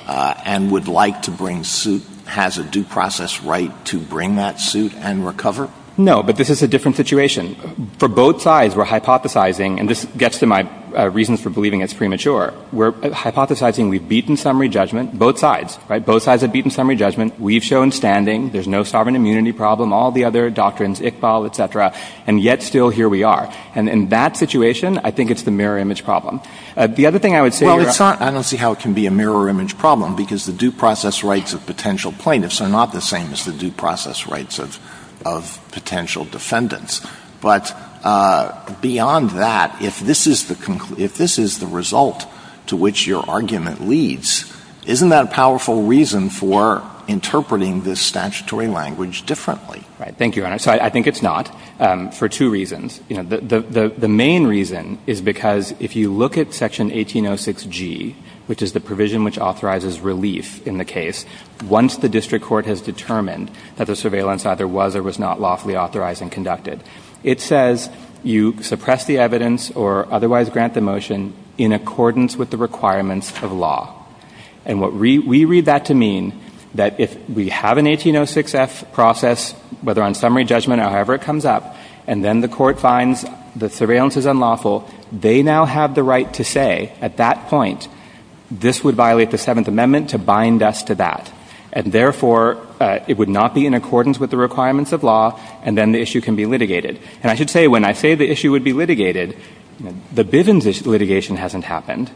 and would like to bring suit has a due process right to bring that suit and recover? No, but this is a different situation. For both sides, we're hypothesizing, and this gets to my reasons for believing it's premature, we're hypothesizing we've beaten summary judgment, both sides, right? Both sides have beaten summary judgment. We've shown standing. There's no sovereign immunity problem, all the other doctrines, Iqbal, et cetera. And yet still, here we are. And in that situation, I think it's the mirror image problem. The other thing I would say- Well, it's not honestly how it can be a mirror image problem, because the due process rights of potential plaintiffs are not the same as the due process rights of potential defendants. But beyond that, if this is the result to which your argument leads, isn't that a powerful reason for interpreting this statutory language differently? Right. Thank you, Your Honor. So I think it's not, for two reasons. The main reason is because if you look at Section 1806G, which is the provision which authorizes relief in the case, once the district court has determined that the surveillance either was or was not lawfully authorized and conducted, it says you suppress the evidence or otherwise grant the motion in accordance with the requirements of law. And we read that to mean that if we have an 1806F process, whether on summary judgment or however it comes up, and then the court finds the surveillance is unlawful, they now have the right to say, at that point, this would violate the Seventh Amendment to bind us to that. And therefore, it would not be in accordance with the requirements of law, and then the issue can be litigated. And I should say, when I say the issue would be litigated, the Bivens litigation hasn't happened.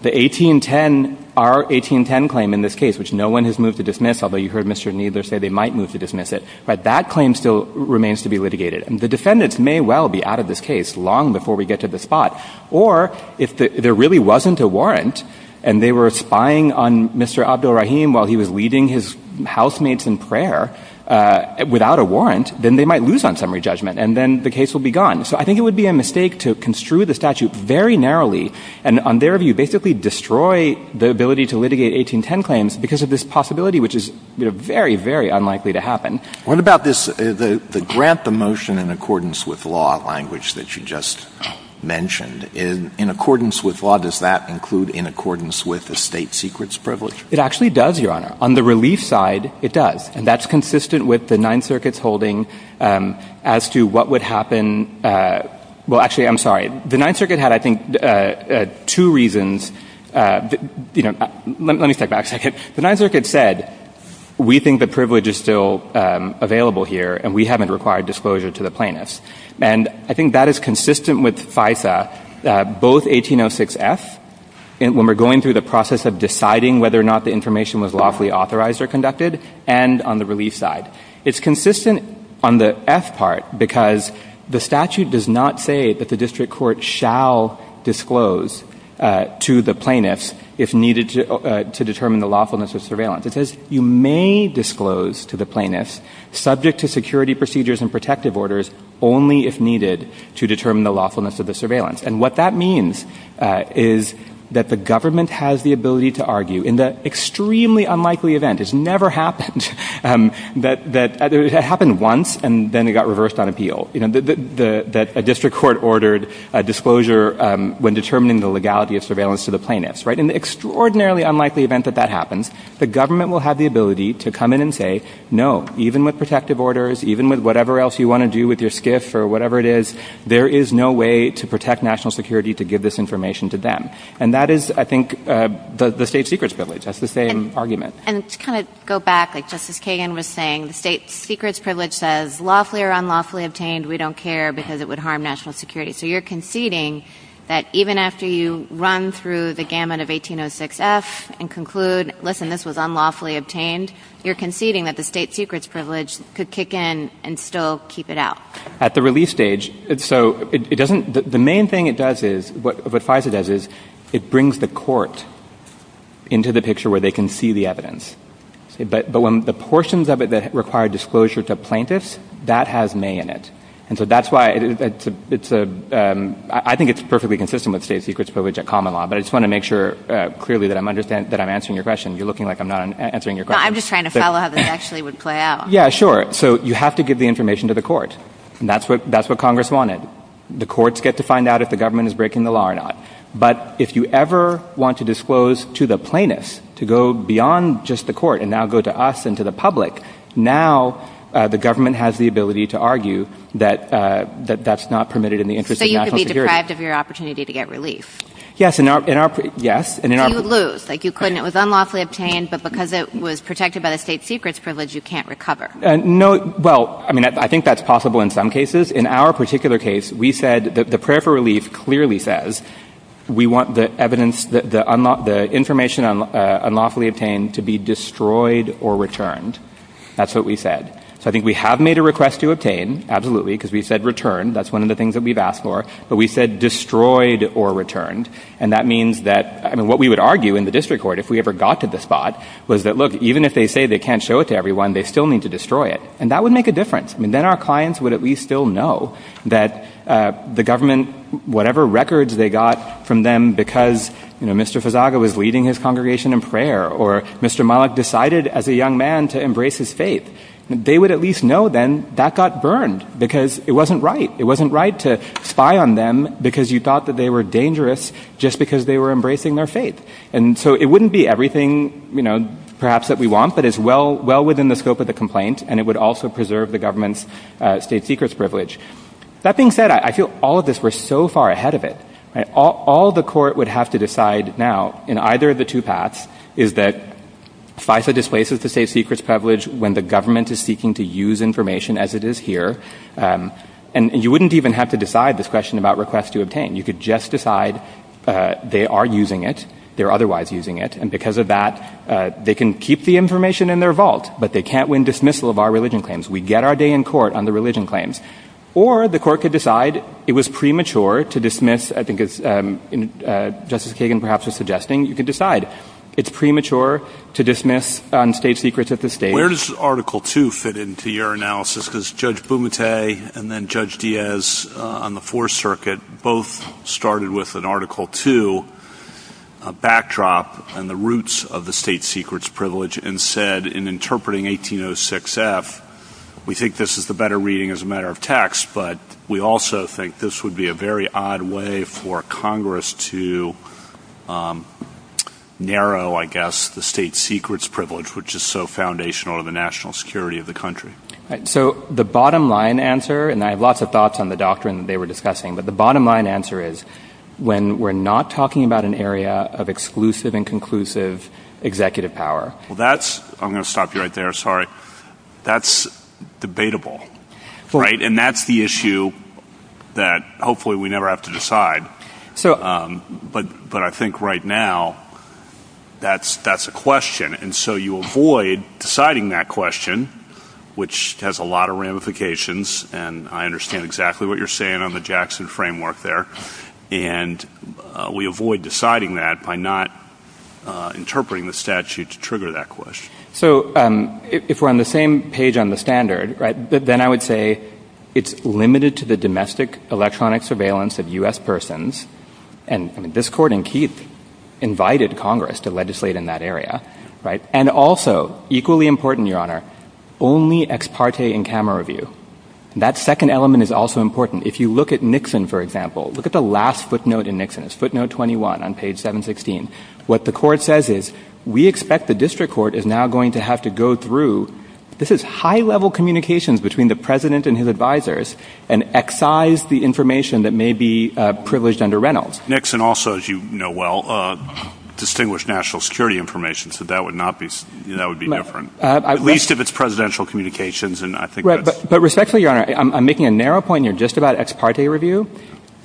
The 1810, our 1810 claim in this case, which no one has moved to dismiss, although you heard Mr. Kneedler say they might move to dismiss it, but that claim still remains to be litigated. And the defendants may well be out of this case long before we get to the spot. Or if there really wasn't a warrant, and they were spying on Mr. Abdul-Rahim while he was leading his housemates in prayer without a warrant, then they might lose on summary judgment, and then the case will be gone. So I think it would be a mistake to construe the statute very narrowly and, on their view, basically destroy the ability to litigate 1810 claims because of this possibility, which is very, very unlikely to happen. What about this, the grant the motion in accordance with law language that you just mentioned? In accordance with law, does that include in accordance with the state secrets privilege? It actually does, Your Honor. On the relief side, it does. And that's consistent with the Ninth Circuit's holding as to what would happen. Well, actually, I'm sorry. The Ninth Circuit had, I think, two reasons. Let me step back a second. The Ninth Circuit said, we think the privilege is still available here, and we haven't required disclosure to the plaintiffs. And I think that is consistent with FISA, both 1806F, when we're going through the process of deciding whether or not the information was lawfully authorized or conducted, and on the relief side. It's consistent on the F part because the statute does not say that the district court shall disclose to the plaintiffs if needed to determine the lawfulness of surveillance. It you may disclose to the plaintiffs subject to security procedures and protective orders only if needed to determine the lawfulness of the surveillance. And what that means is that the government has the ability to argue in the extremely unlikely event, it's never happened, that it happened once and then it got reversed on appeal, that a district court ordered a disclosure when determining the legality of surveillance to the plaintiffs. In the extraordinarily unlikely event that that happens, the government will have the ability to come in and say, no, even with protective orders, even with whatever else you want to do with your SCIF or whatever it is, there is no way to protect national security to give this information to them. And that is, I think, the state secret's privilege. That's the same argument. And to kind of go back, like Justice Kagan was saying, the state secret's privilege says, lawfully or unlawfully obtained, we don't care because it would harm national security. So you're run through the gamut of 1806F and conclude, listen, this was unlawfully obtained, you're conceding that the state secret's privilege could kick in and still keep it out. At the release stage, so it doesn't, the main thing it does is, what FISA does is it brings the court into the picture where they can see the evidence. But when the portions of it that require disclosure to plaintiffs, that has may in it. And so that's why it's a, I think it's perfectly consistent with state secret's privilege at common law. But I just want to make sure clearly that I'm understanding, that I'm answering your question. You're looking like I'm not answering your question. I'm just trying to follow how this actually would play out. Yeah, sure. So you have to give the information to the court. And that's what Congress wanted. The courts get to find out if the government is breaking the law or not. But if you ever want to disclose to the plaintiffs to go beyond just the court and now go to us and to the public, now the government has the ability to argue that that's not permitted in the interest of national to get relief. Yes, in our, in our, yes. And in our... You would lose, like you couldn't. It was unlawfully obtained, but because it was protected by the state secret's privilege, you can't recover. No, well, I mean, I think that's possible in some cases. In our particular case, we said that the prayer for relief clearly says we want the evidence, the information unlawfully obtained to be destroyed or returned. That's what we said. So I think we have made a request to obtain, absolutely, because we said return. That's one of the things that we've asked for. But we said destroyed or returned. And that means that, I mean, what we would argue in the district court, if we ever got to the spot, was that, look, even if they say they can't show it to everyone, they still need to destroy it. And that would make a difference. I mean, then our clients would at least still know that the government, whatever records they got from them because, you know, Mr. Fazaga was leading his congregation in prayer or Mr. Malik decided as a young man to embrace his faith. They would at least know then that got burned because it wasn't right to spy on them because you thought that they were dangerous just because they were embracing their faith. And so it wouldn't be everything, you know, perhaps that we want, but it's well within the scope of the complaint. And it would also preserve the government's state secrets privilege. That being said, I feel all of us were so far ahead of it. All the court would have to decide now in either of the two paths is that FISA displaces the state secrets privilege when the government is seeking to use information as it is here. And you wouldn't even have to decide this question about requests to obtain. You could just decide they are using it. They're otherwise using it. And because of that, they can keep the information in their vault, but they can't win dismissal of our religion claims. We get our day in court on the religion claims or the court could decide it was premature to dismiss. I think it's just as Kagan perhaps was suggesting you could decide it's premature to dismiss state secrets Where does Article 2 fit into your analysis? Because Judge Bumate and then Judge Diaz on the Fourth Circuit both started with an Article 2 backdrop and the roots of the state secrets privilege and said in interpreting 1806 F, we take this as the better reading as a matter of text. But we also think this would be a very odd way for Congress to narrow, I guess, the state secrets privilege, which is so foundational to the national security of the country. So the bottom line answer, and I have lots of thoughts on the doctrine that they were discussing, but the bottom line answer is when we're not talking about an area of exclusive and conclusive executive power. Well, that's I'm going to stop you right there. Sorry. That's debatable. Right. And that's the you avoid deciding that question, which has a lot of ramifications. And I understand exactly what you're saying on the Jackson framework there. And we avoid deciding that by not interpreting the statute to trigger that question. So if we're on the same page on the standard, right, then I would say it's limited to the domestic electronic surveillance of US persons. And this court in Keith invited Congress to and also equally important, your honor, only ex parte in camera review. That second element is also important. If you look at Nixon, for example, look at the last footnote in Nixon's footnote 21 on page 716. What the court says is we expect the district court is now going to have to go through this is high level communications between the president and his advisors and excise the information that may be privileged under Nixon also, as you know, well, distinguished national security information. So that would not be that would be different, at least if it's presidential communications. And I think right. But respectfully, your honor, I'm making a narrow point. You're just about ex parte review.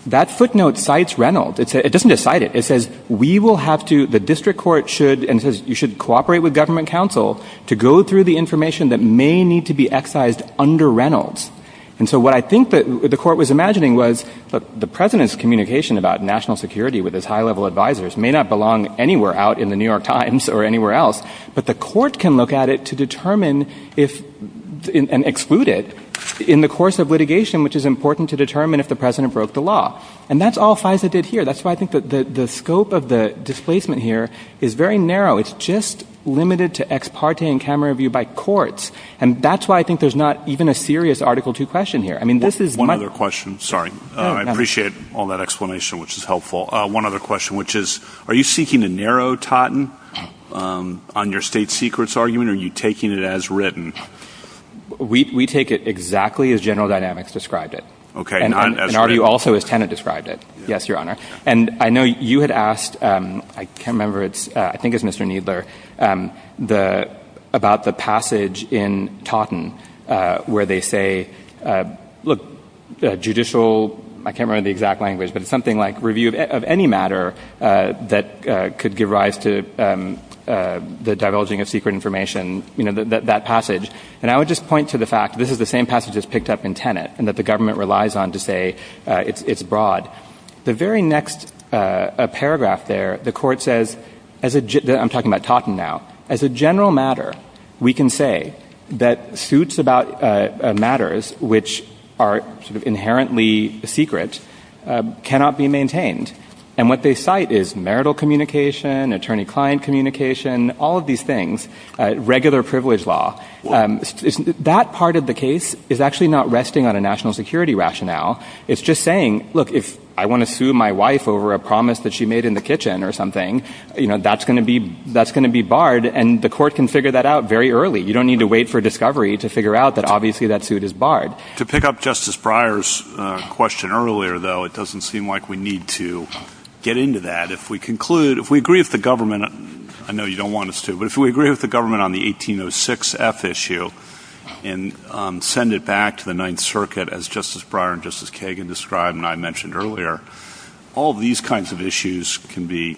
That footnote cites Reynolds. It doesn't decide it. It says we will have to the district court should and you should cooperate with government counsel to go through the information that may need to be excised under Reynolds. And so what I think that the court was imagining was the president's communication about national security with his high level advisors may not belong anywhere out in The New York Times or anywhere else. But the court can look at it to determine if and exclude it in the course of litigation, which is important to determine if the president broke the law. And that's all FISA did here. That's why I think that the scope of the displacement here is very narrow. It's just limited to ex parte in camera review by courts. And that's why I think there's not even a serious Article two question here. I mean, all that explanation, which is helpful. One other question, which is, are you seeking to narrow Totten on your state secrets argument? Are you taking it as written? We take it exactly as General Dynamics described it. Okay. And are you also as tenant described it? Yes, your honor. And I know you had asked. I can't remember. It's I think it's Mr. Needler. The about the passage in Totten, where they say, look, judicial, I can't remember the exact language, but something like review of any matter that could give rise to the divulging of secret information, you know, that passage. And I would just point to the fact this is the same passage is picked up in tenant and that the government relies on to say, it's broad. The very next paragraph there, the court says, as I'm talking about Totten now, as a general matter, we can say that suits about matters which are inherently secret cannot be maintained. And what they cite is marital communication, attorney client communication, all of these things, regular privilege law. That part of the case is actually not resting on a national security rationale. It's just saying, look, if I want to sue my wife over a promise that she made in the kitchen or something, you know, that's going to be that's going to be barred. And the court can figure that out very early. You don't need to wait for discovery to figure out that obviously that suit is barred. To pick up Justice Breyer's question earlier, though, it doesn't seem like we need to get into that if we conclude if we agree with the government. I know you don't want us to, but if we agree with the government on the 1806 F issue and send it back to the Ninth Circuit, as Justice Breyer and Justice Kagan described and I mentioned earlier, all these kinds of issues can be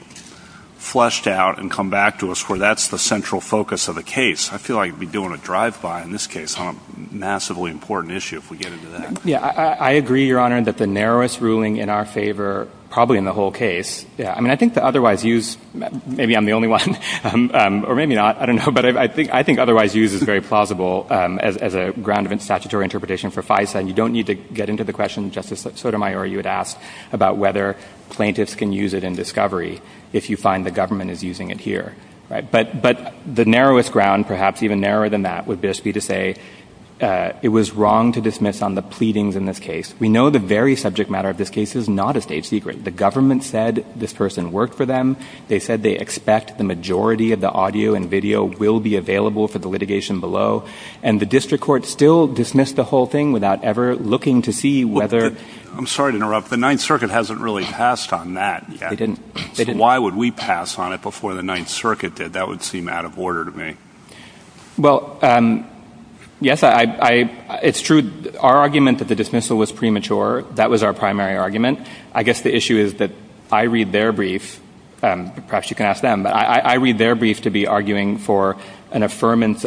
fleshed out and come back to us where that's the central focus of the case. I feel like we're doing a drive by in this case on a massively important issue if we get into that. Yeah, I agree, Your Honor, that the narrowest ruling in our favor, probably in the whole case. Yeah. I mean, I think the otherwise used maybe I'm the only one or maybe not. I don't know. But I think I think otherwise used is very plausible as a ground of statutory interpretation for FISA. And you don't need to get into the question, Justice Sotomayor, you had asked about whether plaintiffs can use it in discovery if you find the government is using it here. But the narrowest ground, perhaps even narrower than that, would be to say it was wrong to dismiss on the pleadings in this case. We know the very subject matter of this case is not a state secret. The government said this person worked for them. They said they the majority of the audio and video will be available for the litigation below. And the district court still dismissed the whole thing without ever looking to see whether. I'm sorry to interrupt. The Ninth Circuit hasn't really passed on that. Why would we pass on it before the Ninth Circuit did? That would seem out of order to me. Well, yes, I it's true. Our argument that the dismissal was premature. That was our primary argument. I guess the issue is that I read their brief. Perhaps you can ask them. But I read their brief to be arguing for an affirmance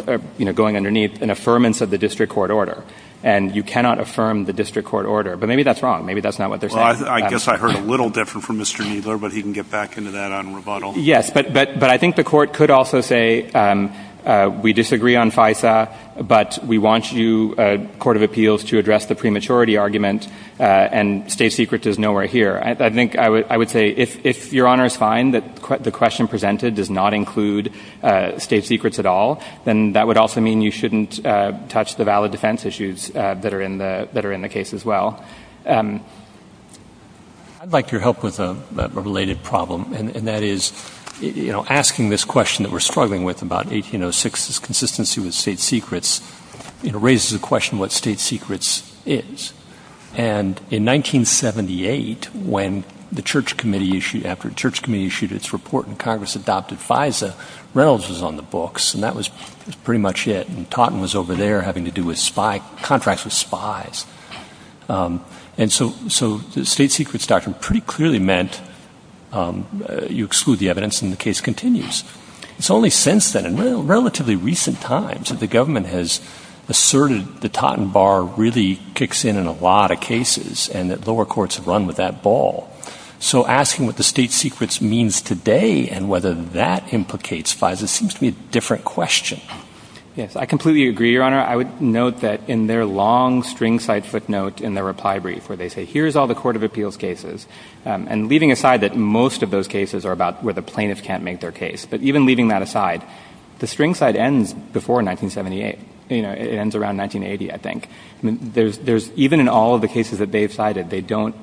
going underneath an affirmance of the district court order. And you cannot affirm the district court order. But maybe that's wrong. Maybe that's not what they're saying. I guess I heard a little different from Mr. Kneedler, but he can get back into that on rebuttal. Yes, but but but I think the court could also say we disagree on FISA, but we want you, Court of Appeals, to address the prematurity argument. And state secrets is nowhere here. I think I would I would say if your honor is fine, that the question presented does not include state secrets at all, then that would also mean you shouldn't touch the valid defense issues that are in the that are in the case as well. I'd like your help with a related problem. And that is, you know, asking this question that we're struggling with about 1806, this consistency with state secrets, you know, raises a question what state secrets is. And in 1978, when the church committee issued after church committee issued its report and Congress adopted FISA, Reynolds was on the books, and that was pretty much it. And Totten was over there having to do with spy contracts with spies. And so so the state secrets doctrine pretty clearly meant you exclude the evidence and the It's only since then in relatively recent times that the government has asserted the Totten Bar really kicks in in a lot of cases and that lower courts have run with that ball. So asking what the state secrets means today and whether that implicates FISA seems to be a different question. Yes, I completely agree, your honor. I would note that in their long string side footnote in their reply brief where they say here's all the Court of Appeals cases, and leaving aside that most of those cases are about where the plaintiffs can't make their case. But even leaving that aside, the string side ends before 1978. It ends around 1980. I think there's even in all of the cases that they've cited, they don't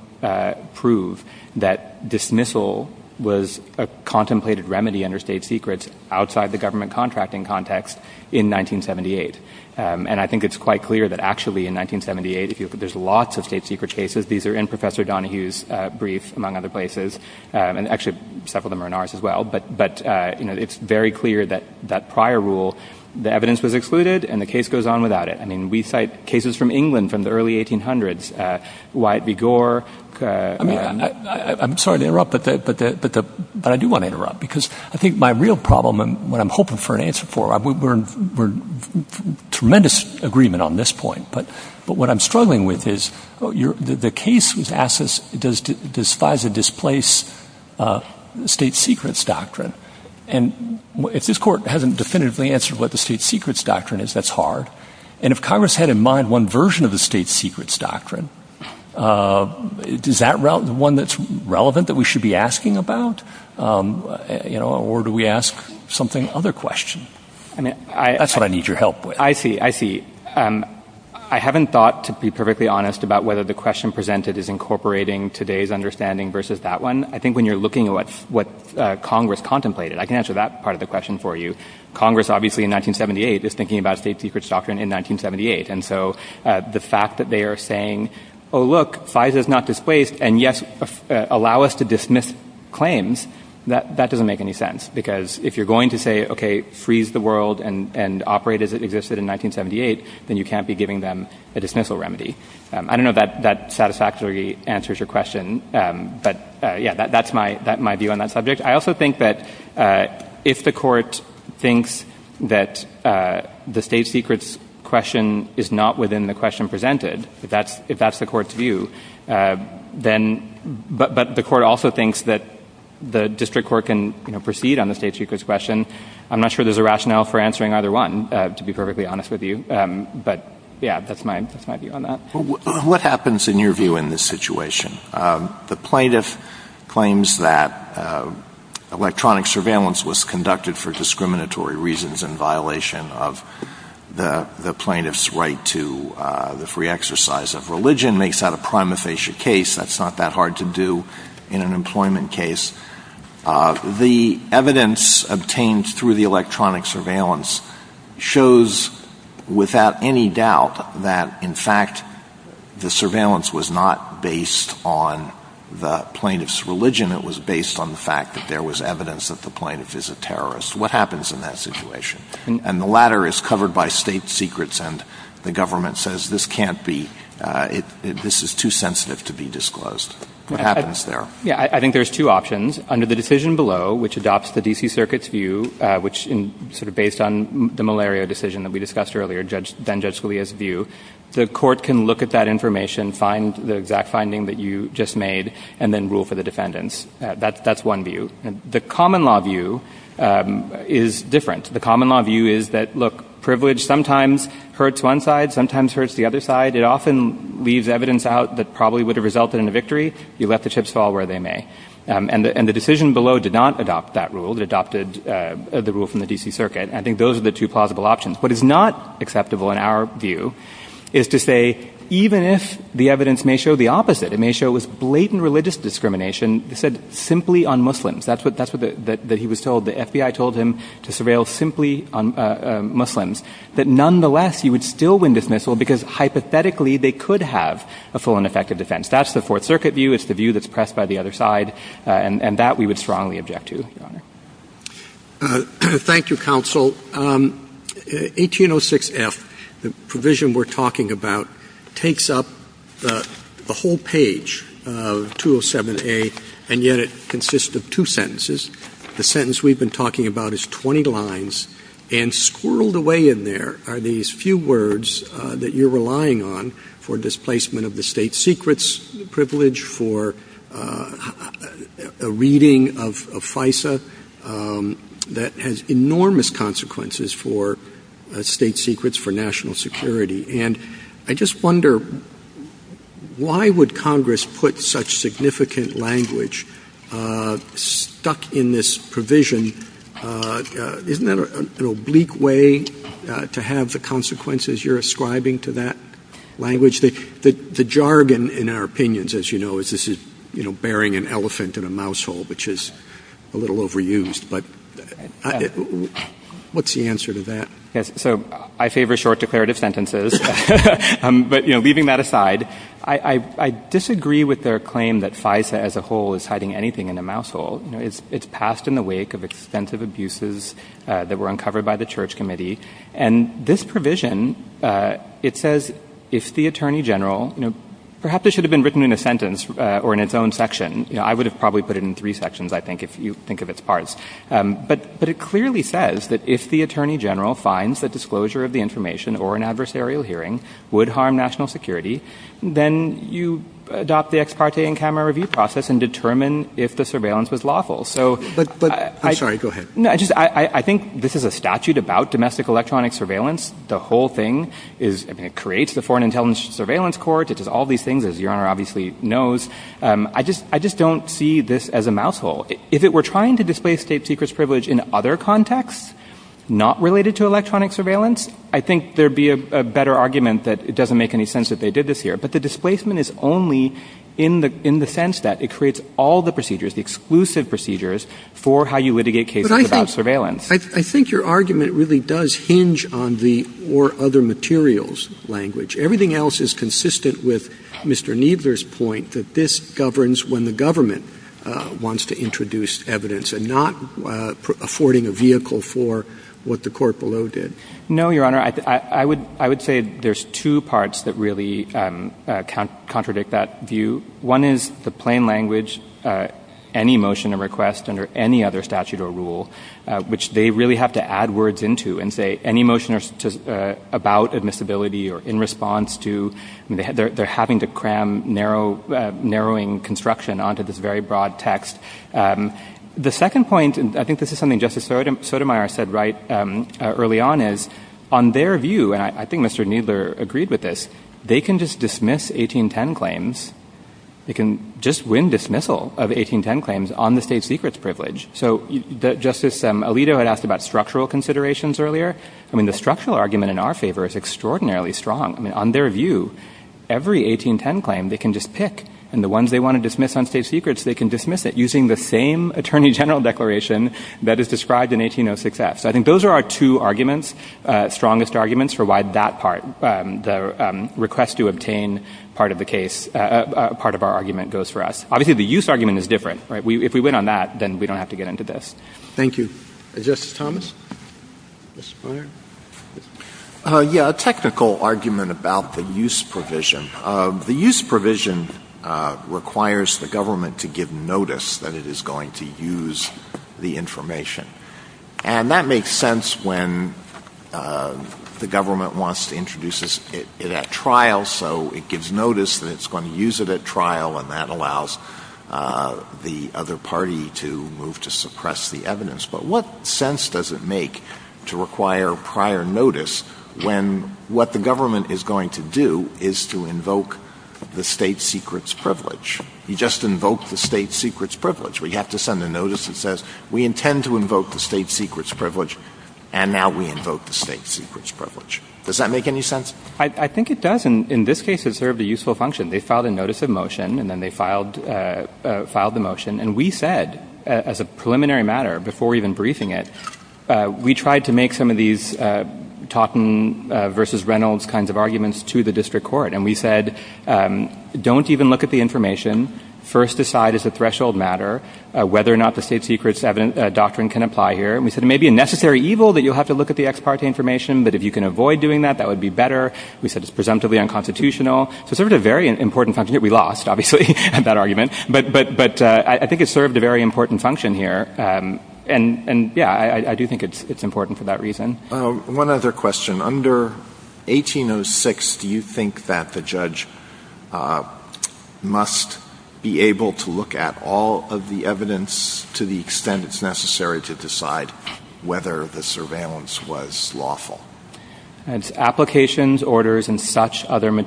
prove that dismissal was a contemplated remedy under state secrets outside the government contracting context in 1978. And I think it's quite clear that actually in 1978, there's lots of state secret cases. These are in Professor Donohue's brief, among other places. And actually, several of them are in ours as well. But it's very clear that that prior rule, the evidence was excluded and the case goes on without it. I mean, we cite cases from England from the early 1800s, Y. B. Gore. I'm sorry to interrupt, but I do want to interrupt because I think my real problem and what I'm hoping for an answer for, we're in tremendous agreement on this point. But what I'm struggling with is the case was asked does despise or displace state secrets doctrine. And if this court hasn't definitively answered what the state secrets doctrine is, that's hard. And if Congress had in mind one version of the state secrets doctrine, is that one that's relevant that we should be asking about? Or do we ask something other questions? I mean, that's what I need your I see. I see. I haven't thought to be perfectly honest about whether the question presented is incorporating today's understanding versus that one. I think when you're looking at what Congress contemplated, I can answer that part of the question for you. Congress, obviously, in 1978, is thinking about state secrets doctrine in 1978. And so the fact that they are saying, oh, look, FISA is not displaced. And yes, allow us to dismiss claims. That doesn't make any sense. Because if you're going to say, okay, freeze the world and operate as it existed in 1978, then you can't be giving them a dismissal remedy. I don't know that satisfactorily answers your question. But yeah, that's my view on that subject. I also think that if the court thinks that the state secrets question is not within the question presented, if that's the court's view, but the district court can proceed on the state secrets question. I'm not sure there's a rationale for answering either one, to be perfectly honest with you. But yeah, that's my view on that. What happens in your view in this situation? The plaintiff claims that electronic surveillance was conducted for discriminatory reasons in violation of the plaintiff's right to the free exercise of religion, makes that a prima facie case. That's not that hard to do in an employment case. The evidence obtained through the electronic surveillance shows without any doubt that in fact the surveillance was not based on the plaintiff's religion. It was based on the fact that there was evidence that the plaintiff is a terrorist. What happens in that situation? And the latter is covered by state secrets. And the government says this can't be, this is too sensitive to be disclosed. What happens there? Yeah, I think there's two options. Under the decision below, which adopts the D.C. Circuit's view, which sort of based on the malaria decision that we discussed earlier, then Judge Scalia's view, the court can look at that information, find the exact finding that you just made, and then rule for the defendants. That's one view. The common law view is different. The common law is that privilege sometimes hurts one side, sometimes hurts the other side. It often leaves evidence out that probably would have resulted in a victory. You let the chips fall where they may. And the decision below did not adopt that rule. It adopted the rule from the D.C. Circuit. I think those are the two possible options. What is not acceptable in our view is to say even if the evidence may show the opposite, it may show it was blatant religious discrimination, said simply on Muslims. That's what he was told. The FBI told him to surveil simply on Muslims. That nonetheless, he would still win dismissal because hypothetically, they could have a full and effective defense. That's the Fourth Circuit view. It's the view that's pressed by the other side. And that we would strongly object to, Your Honor. Thank you, counsel. 1806F, the provision we're talking about, takes up the whole page of 207A, and yet it consists of two sentences. The sentence we've been talking about is 20 lines, and squirreled away in there are these few words that you're relying on for displacement of the state secrets privilege, for a reading of FISA that has enormous consequences for state secrets, for national security. And I just wonder, why would Congress put such significant language stuck in this provision? Isn't that an oblique way to have the consequences you're ascribing to that language? The jargon, in our opinions, as you know, is this is, you know, bearing an elephant in a mouse hole, which is a little overused. But what's the answer to that? So, I favor short declarative sentences. But, you know, leaving that aside, I disagree with their claim that FISA as a whole is hiding anything in a mouse hole. It's passed in the wake of extensive abuses that were uncovered by the Church Committee. And this provision, it says, if the Attorney General, you know, perhaps it should have been written in a sentence or in its own section. I would have probably put it in three sections, I think, if you think of it. But it clearly says that if the Attorney General finds that disclosure of the information or an adversarial hearing would harm national security, then you adopt the ex parte and camera review process and determine if the surveillance was lawful. I think this is a statute about domestic electronic surveillance. The whole thing creates the Foreign Intelligence Surveillance Court. It does all these things, as Your Honor obviously knows. I just don't see this as a secret privilege in other contexts not related to electronic surveillance. I think there'd be a better argument that it doesn't make any sense that they did this here. But the displacement is only in the sense that it creates all the procedures, the exclusive procedures, for how you litigate cases about surveillance. But I think your argument really does hinge on the or other materials language. Everything else is consistent with Mr. Kneebler's point that this is not affording a vehicle for what the court below did. No, Your Honor. I would say there's two parts that really contradict that view. One is the plain language, any motion or request under any other statute or rule, which they really have to add words into and say any motion about admissibility or in response to. They're having to cram narrowing construction onto this very broad text. The second point, and I think this is something Justice Sotomayor said right early on, is on their view, and I think Mr. Kneebler agreed with this, they can just dismiss 1810 claims. They can just win dismissal of 1810 claims on the state secrets privilege. So Justice Alito had asked about structural considerations earlier. I mean, the structural argument in our favor is extraordinarily strong. I mean, on their view, every 1810 claim they can just pick, and the ones they want to dismiss on state secrets, they can dismiss it using the same attorney general declaration that is described in 1806 F. So I think those are our two arguments, strongest arguments for why that part, the request to obtain part of the case, part of our argument goes for us. Obviously, the use argument is different, right? If we went on that, then we don't have to get into this. Thank you. Justice Thomas? Yes, a technical argument about the use provision. The use provision requires the government to give notice that it is going to use the information. And that makes sense when the government wants to introduce it at trial, so it gives notice that it's going to use it at trial and that allows the other party to move to suppress the evidence. But what sense does it make to require prior notice when what the government is going to do is to invoke the state secrets privilege? You just invoked the state secrets privilege where you have to send a notice that says we intend to invoke the state secrets privilege, and now we invoke the state secrets privilege. Does that make any sense? I think it does. And in this case, it served a useful function. They filed a notice of motion, and then they filed the motion. And we said, as a preliminary matter, before even briefing it, we tried to make some of these Totten v. Reynolds kinds of arguments to the district court. And we said, don't even look at the information. First decide as a threshold matter whether or not the state secrets doctrine can apply here. And we said, it may be a necessary evil that you'll have to look at the ex parte information, but if you can avoid doing that, that would be better. We said it's presumptively unconstitutional. So it served a very important function. We lost, obviously, that argument. But I think it served a very important function here. And yeah, I do think it's important for that reason. One other question. Under 1806, do you think that the judge must be able to look at all of the evidence to the extent it's necessary to decide whether the surveillance was lawful? Applications, orders, and such other I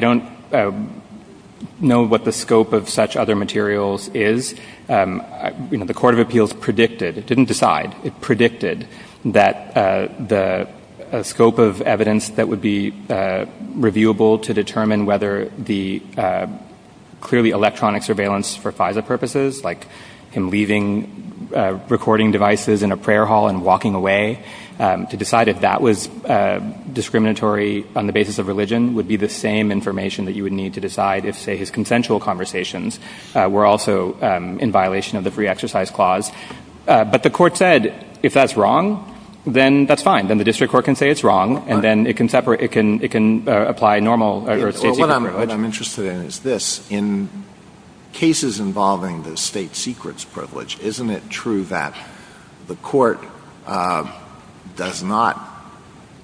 don't know what the scope of such other materials is. The Court of Appeals predicted, it didn't decide, it predicted that the scope of evidence that would be reviewable to determine whether the clearly electronic surveillance for FISA purposes, like him leaving recording devices in a prayer hall and walking away, to decide if that was discriminatory on the basis of religion would be the same information that you would need to decide if, say, his consensual conversations were also in violation of the Free Exercise Clause. But the court said, if that's wrong, then that's fine. Then the district court can say it's wrong, and then it can separate, it can apply normal safety standards. What I'm interested in is this. In cases involving the state secrets privilege, isn't it true that the court does not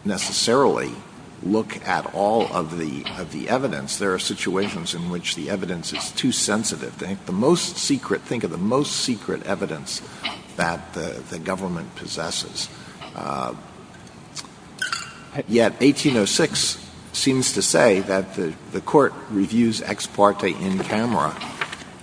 necessarily look at all of the evidence? There are situations in which the evidence is too sensitive. Think of the most secret evidence that the government possesses. Yet 1806 seems to say that the court reviews ex parte in camera.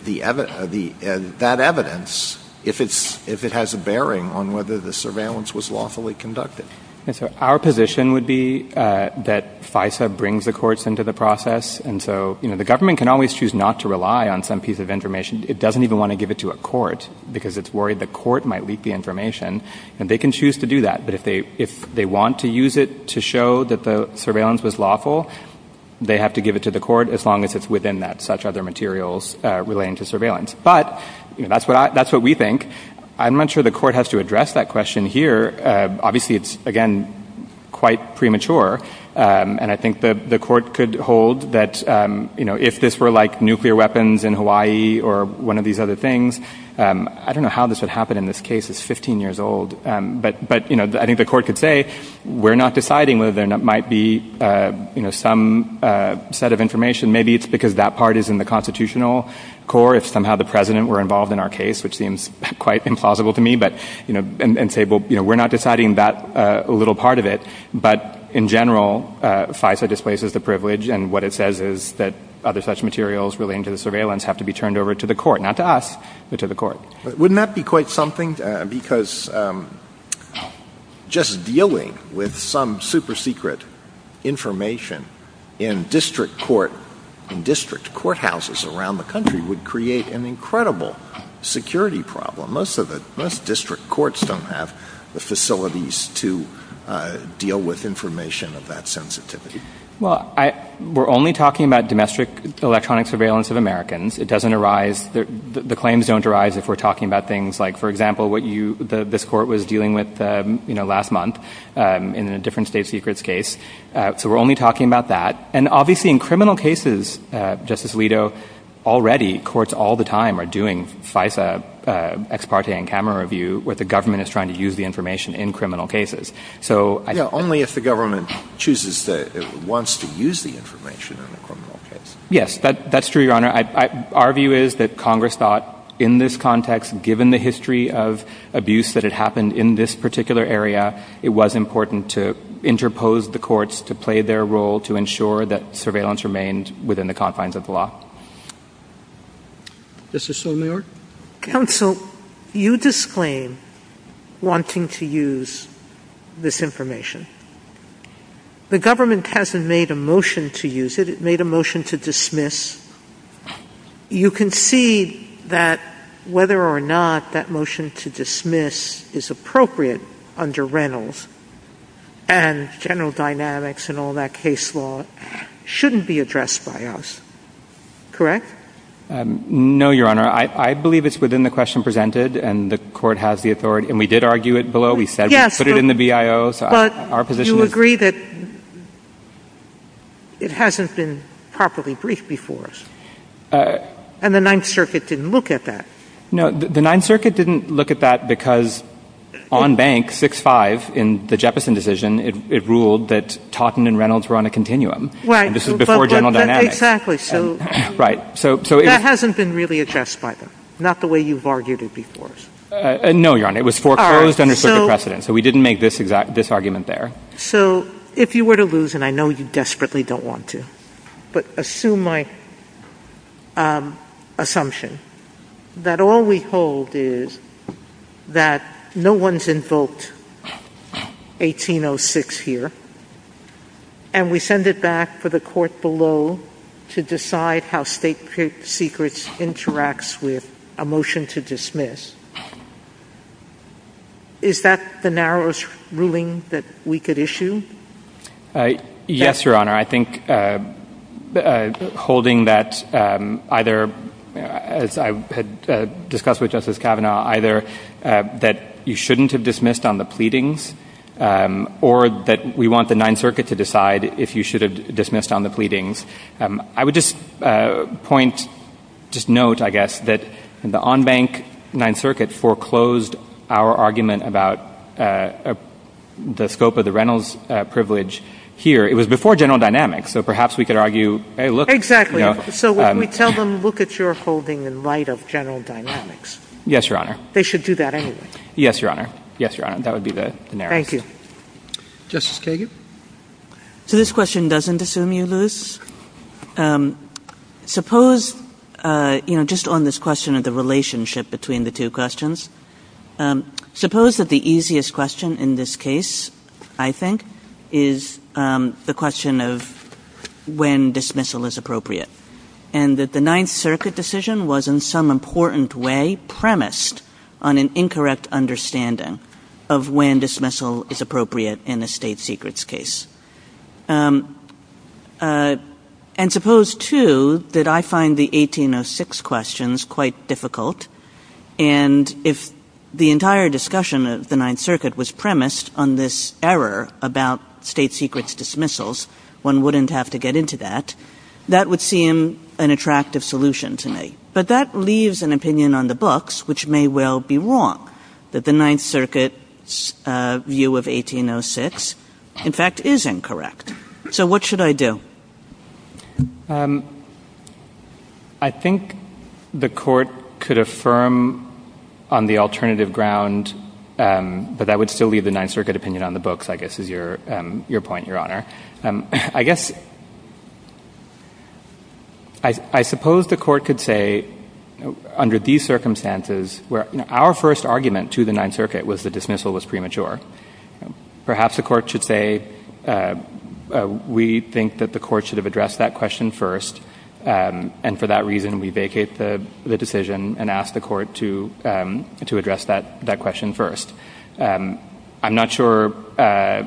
The evidence, that evidence, if it's, if it has a bearing on whether the surveillance was lawfully conducted. So our position would be that FISA brings the courts into the process. And so, you know, the government can always choose not to rely on some piece of information. It doesn't even want to give it to a court because it's worried the court might leak the information. And they can choose to do that. But if they, if they want to use it to show that the surveillance was lawful, they have to give it to the court as long as it's within that such other materials relating to surveillance. But that's what I, that's what we think. I'm not sure the court has to address that question here. Obviously it's again, quite premature. And I think that the court could hold that, you know, if this were like nuclear weapons in Hawaii or one of these other things, I don't know how this would happen in this case is 15 years old. But, but, you know, I think the court could say, we're not deciding whether there might be, you know, some set of information. Maybe it's because that part is in the constitutional core. If somehow the president were involved in our case, which seems quite implausible to me, but, you know, and say, well, you know, we're not deciding that a little part of it, but in general FISA displaces the privilege. And what it says is that other such materials relating to the surveillance have to be turned over to the court, not to us, but to the court. Wouldn't that be quite something because just dealing with some super secret information in district court, in district courthouses around the country would create an incredible security problem. Most of it, most district courts don't have the facilities to deal with information of that sensitivity. Well, I, we're only talking about domestic electronic surveillance of Americans. It doesn't arise. The claims don't arise if we're talking about things like, for example, what you, the, this court was dealing with, you know, last month, um, in a different state secrets case. Uh, so we're only talking about that. And obviously in criminal cases, uh, Justice Alito already courts all the time are doing FISA, uh, ex parte and camera review with the government is trying to use the information in criminal cases. So only if the government chooses that it wants to use the information. Yes, that's true, Your Honor. I, I, our view is that Congress thought in this context, given the history of abuse that had happened in this particular area, it was important to interpose the courts to play their role, to ensure that surveillance remained within the confines of the law. This is so your counsel, you disclaim wanting to use this information. The government hasn't made a motion to use it. It made a motion to dismiss. You can see that whether or not that motion to dismiss is appropriate under Reynolds and general dynamics and all that case law shouldn't be addressed by us. Correct? Um, no, Your Honor. I, I believe it's within the question presented and the court has the authority and we did argue it below. We said, put it in the BIOs, our position. You agree that it hasn't been properly briefed before us. Uh, and the ninth circuit didn't look at that. No, the ninth circuit didn't look at that because on bank six, five in the Jeppesen decision, it ruled that Totten and Reynolds were on a continuum. This was before general dynamics. Right. So, so it hasn't been really assessed by them. Not the way you've argued it before. Uh, no, Your Honor. It was foreclosed under civil precedent. So we didn't make this exact, this argument there. So if you were to lose, and I know you desperately don't want to, but assume my, um, assumption that all we hold is that no one's invoked 1806 here and we send it back for the court below to decide how state secrets interacts with a motion to dismiss. Is that the narrowest ruling that we could issue? Uh, yes, Your Honor. I think, uh, uh, holding that, um, either as I had discussed with Justice Kavanaugh, either, uh, that you shouldn't have dismissed on the pleadings, um, or that we want the ninth circuit to decide if you should have dismissed on the pleadings. Um, I would just, uh, point, just note, I guess, that the on bank ninth circuit foreclosed our argument about, uh, uh, the scope of the Reynolds, uh, privilege here. It was before general dynamics. So perhaps we could argue, Hey, look, exactly. So when we tell them, look at your folding in light of general dynamics. Yes, Your Honor. They should do that anyway. Yes, Your Honor. Yes, Your Honor. That would be the narrowest. Thank you. Justice Kagan. So this question doesn't assume you lose. Um, suppose, uh, you know, just on this question of the relationship between the two questions, um, suppose that the easiest question in this case, I think, is, um, the question of when dismissal is appropriate and that the ninth circuit decision was in some important way premised on an incorrect understanding of when dismissal is appropriate in a state secrets case. Um, uh, and suppose too that I find the 1806 questions quite difficult. And if the entire discussion of the ninth circuit was premised on this error about state secrets dismissals, one wouldn't have to get into that. That would seem an attractive solution to me, but that leaves an opinion on the books, which may well be wrong, that the ninth circuit, uh, view of 1806 in fact is incorrect. So what should I do? Um, I think the court could affirm on the alternative ground. Um, but I would still leave the ninth circuit opinion on the books, I guess, is your, um, your point, Your Honor. Um, I guess I, I suppose the court could say under these circumstances where our first argument to the ninth circuit was the dismissal was premature. Perhaps the court should say, uh, uh, we think that the court should have addressed that question first. Um, and for that reason, we vacate the, the decision and ask the court to, um, to address that, that question first. Um, I'm not sure, uh,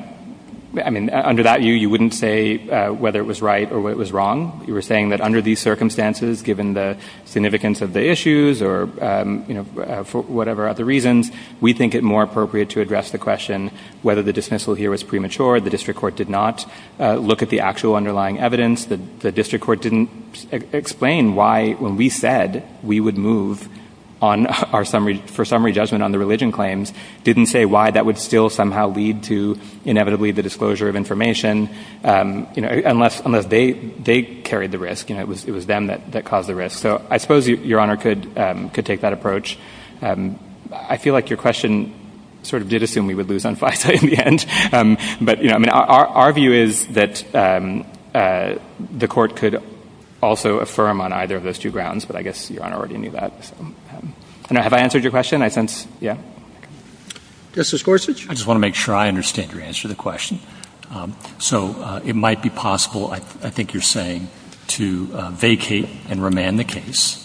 I mean, under that you, you wouldn't say, uh, whether it was right or what was wrong. You were saying that under these circumstances, given the significance of the issues or, um, you know, for whatever other reasons, we think it more appropriate to address the question, whether the dismissal here was premature. The district court did not, uh, look at the actual underlying evidence that the district court didn't explain why, when we said we would move on our summary for summary judgment on the religion claims, didn't say why that would still somehow lead to inevitably the disclosure of information. Um, you know, unless, unless they, they carried the risk and it was, it was them that, that caused the risk. So I suppose you, Your Honor could, um, could take that approach. Um, I feel like your question sort of did assume we would lose on FISA in the end. Um, but you know, I mean, our, our view is that, um, uh, the court could also affirm on either of those two grounds, but I guess Your Honor already knew that. Um, and I, have I answered your question? I sense. Yeah. Justice Gorsuch. I just want to make sure I understand your answer to the question. Um, so, uh, it might be possible. I, I think you're saying to, uh, vacate and remand the case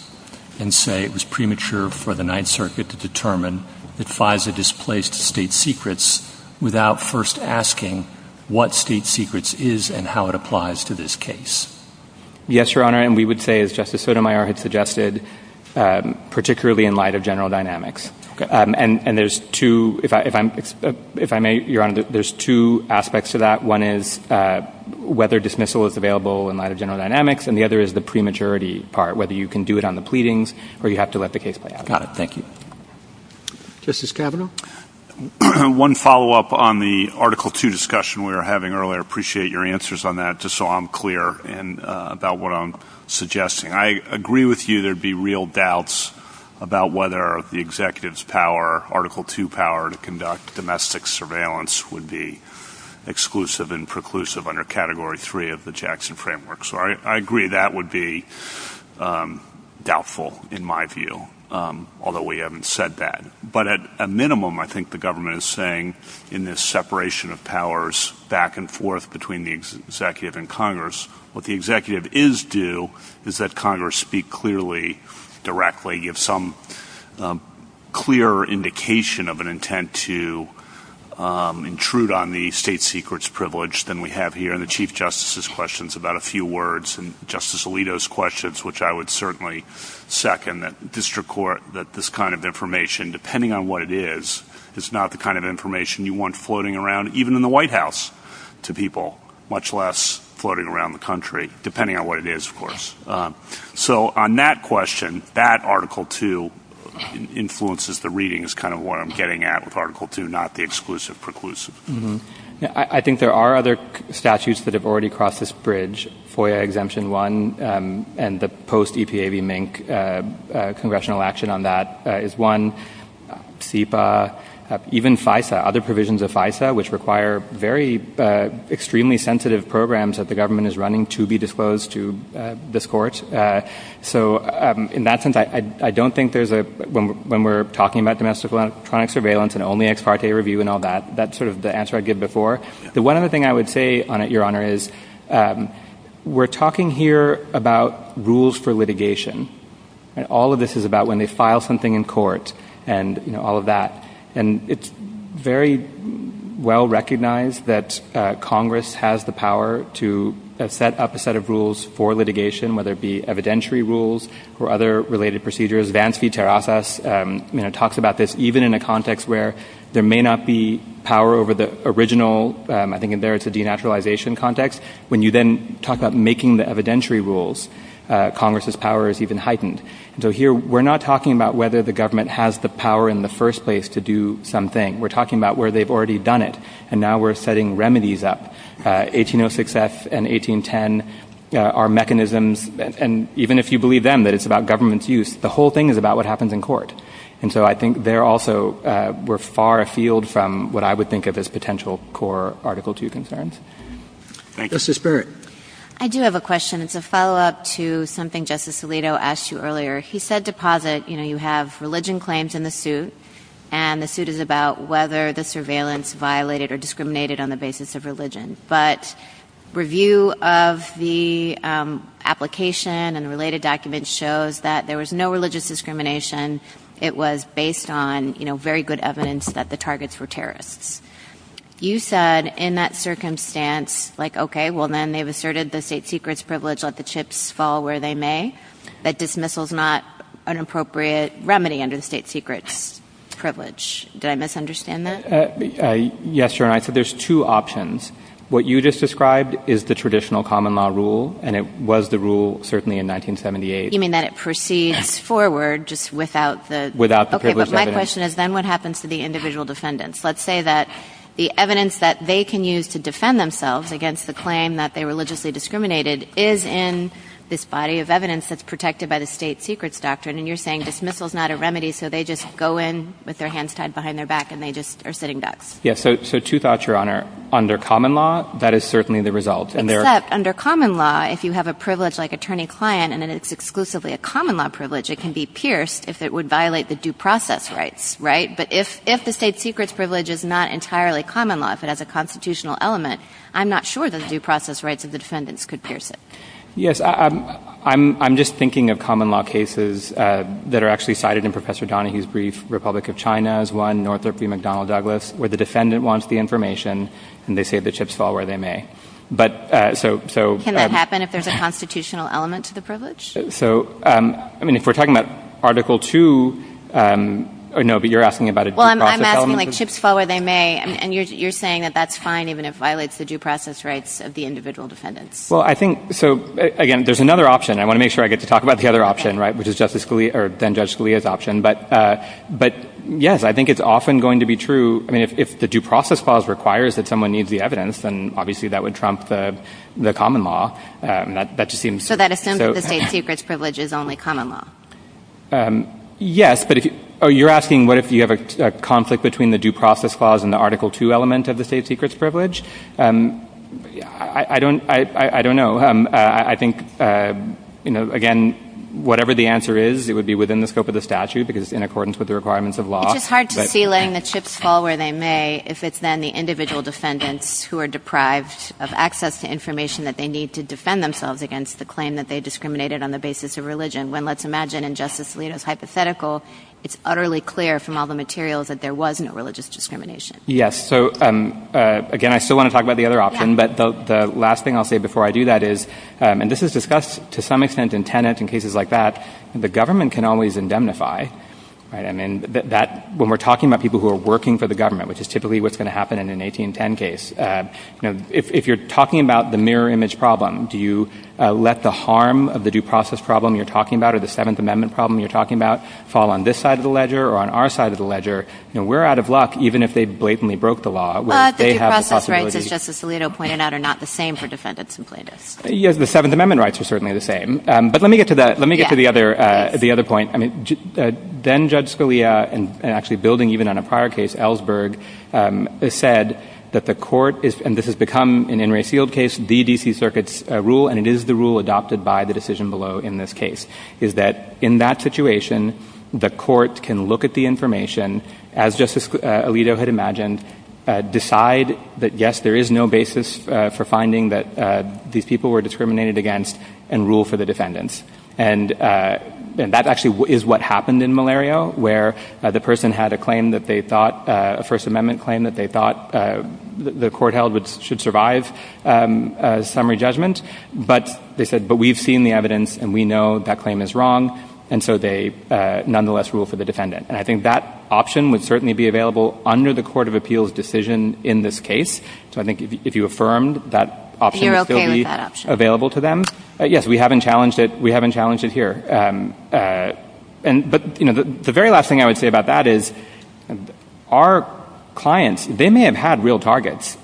and say it was premature for the ninth to determine that FISA displaced state secrets without first asking what state secrets is and how it applies to this case. Yes, Your Honor. And we would say as Justice Sotomayor had suggested, um, particularly in light of general dynamics. Um, and, and there's two, if I, if I'm, if I may, Your Honor, there's two aspects to that. One is, uh, whether dismissal is available in light of general dynamics and the other is the prematurity part, whether you can do it on the pleadings or not. Thank you. Justice Kavanaugh. One follow up on the article two discussion we were having earlier. Appreciate your answers on that just so I'm clear and about what I'm suggesting. I agree with you. There'd be real doubts about whether the executive's power article two power to conduct domestic surveillance would be exclusive and preclusive under category three of the Jackson framework. So I, I agree that would be, um, doubtful in my view. Um, although we haven't said that, but at a minimum, I think the government is saying in this separation of powers back and forth between the executive and Congress, what the executive is do is that Congress speak clearly directly. You have some, um, clear indication of an intent to, um, intrude on the state secrets privilege than we have here in the chief justices questions about a few words and justice Alito's questions, which I would certainly second that district court that this kind of information, depending on what it is, it's not the kind of information you want floating around, even in the white house to people, much less floating around the country, depending on what it is, of course. Um, so on that question, that article two influences the readings, kind of. I think there are other statutes that have already crossed this bridge for exemption one, um, and the post EPA V mink, uh, uh, congressional action on that is one SIPA, uh, even FISA other provisions of FISA, which require very, uh, extremely sensitive programs that the government is running to be disclosed to this court. Uh, so, um, in that sense, I, I don't think there's a, when we're talking about domestic electronic surveillance and only ex parte review and all that, that's sort of the answer I'd give before. The one other thing I would say on it, your honor is, um, we're talking here about rules for litigation and all of this is about when they file something in court and all of that. And it's very well recognized that, uh, Congress has the power to set up a set of rules for litigation, whether it be evidentiary rules or other related procedures, advanced feature office, um, you know, talks about this, even in a context where there may not be power over the original, um, I think in there it's a denaturalization context. When you then talk about making the evidentiary rules, uh, Congress's power is even heightened. So here we're not talking about whether the government has the power in the first place to do something. We're talking about where they've already done it. And now we're setting remedies up, uh, 1806 S and 1810, uh, our mechanisms. And even if you believe them that it's about government's use, the whole thing is about what happens in court. And so I think they're also, uh, we're far afield from what I would think of as potential core article two concerns. I do have a question. It's a follow up to something justice Alito asked you earlier. He said deposit, you know, you have religion claims in the suit and the suit is about whether the surveillance violated or discriminated on the basis of religion, but review of the, um, application and related documents shows that there was no religious discrimination. It was based on, you know, very good evidence that the targets were terrorists. You said in that circumstance, like, okay, well then they've asserted the state secret's privilege. Let the chips fall where they may, but dismissal is not an appropriate remedy under the state secret privilege. Did I misunderstand that? Uh, yes, you're right. So there's two options. What you just described is the traditional common law rule. And it was the rule, certainly in 1978, you mean that it proceeds forward just without the, without the question is then what happens to the individual defendants? Let's say that the evidence that they can use to defend themselves against the claim that they were religiously discriminated is in this body of evidence that's protected by the state secrets doctrine. And you're saying dismissal is not a remedy. So they just go in with their hands tied behind their back and they just are sitting ducks. Yeah. So, so two thoughts, your honor under common law, that is certainly the result. Under common law, if you have a privilege like attorney client and then it's exclusively a common law privilege, it can be pierced if it would violate the due process rights, right? But if, if the state secret's privilege is not entirely common law, if it has a constitutional element, I'm not sure that the due process rights of the defendants could pierce it. Yes. I'm, I'm, I'm just thinking of common law cases, uh, that are actually cited in professor Donahue's brief. Republic of China is one Northrop McDonnell Douglas where the so, so can that happen if there's a constitutional element to the privilege? So, um, I mean, if we're talking about article two, um, no, but you're asking about it. Well, I'm asking like chips forward. I may, and you're, you're saying that that's fine, even if it violates the due process rights of the individual defendants. Well, I think, so again, there's another option. I want to make sure I get to talk about the other option, right? Which is justice Scalia or then judge Scalia's option. But, uh, but yes, I think it's often going to be true. I mean, if, if the due process clause requires that someone needs the common law, um, that, that just seems, so that assumes that the safe secrets privilege is only common law. Um, yes, but if, Oh, you're asking what if you have a conflict between the due process clause and the article two element of the safe secrets privilege? Um, I don't, I, I don't know. Um, uh, I think, uh, you know, again, whatever the answer is, it would be within the scope of the statute because in accordance with the requirements of law, it's hard to feel in the chips fall where they may, if it's then the individual defendants who are deprived of the information that they need to defend themselves against the claim that they discriminated on the basis of religion. When let's imagine injustice leaders, hypothetical, it's utterly clear from all the materials that there wasn't a religious discrimination. Yes. So, um, uh, again, I still want to talk about the other option, but the last thing I'll say before I do that is, um, and this is discussed to some extent in tenants and cases like that, the government can always indemnify. And I mean that when we're talking about people who are working for the government, which is typically what's going to happen in an 1810 case. Um, if you're talking about the mirror image problem, do you let the harm of the due process problem you're talking about or the seventh amendment problem you're talking about fall on this side of the ledger or on our side of the ledger? You know, we're out of luck, even if they blatantly broke the law, they have the possibility. Justice Alito pointed out are not the same for defendants and plaintiffs. Yeah. The seventh amendment rights are certainly the same. Um, but let me get to that. Let me get to the other, uh, the other point. I mean, uh, then judge Scalia and actually building even on a prior case Ellsberg, um, said that the court is, and this has become an in resealed case, the DC circuits rule. And it is the rule adopted by the decision below in this case is that in that situation, the court can look at the information as justice Alito had imagined, uh, decide that, yes, there is no basis for finding that, uh, these people were discriminated against and rule for the defendants. And, uh, and that actually is what happened in malaria where the person had a claim that they thought a first amendment claim that they thought, uh, the, the court held that should survive, um, uh, summary judgment, but they said, but we've seen the evidence and we know that claim is wrong. And so they, uh, nonetheless rule for the defendant. And I think that option would certainly be available under the court of appeals decision in this case. So I think if you affirmed that option available to them, yes, we haven't challenged it. We haven't challenged it here. Um, uh, and, but you know, the very last thing I would say about that is our clients, they may have had real targets,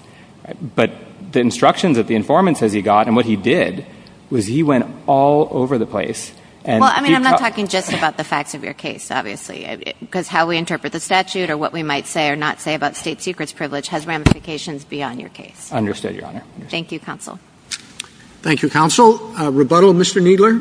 but the instructions that the informant says he got and what he did was he went all over the place. And I mean, I'm not talking just about the facts of your case, obviously, because how we interpret the statute or what we might say or not say about state secrets privilege has ramifications beyond your case. Understood your honor. Thank you. Counsel. Thank you. Counsel rebuttal, Mr. Needler.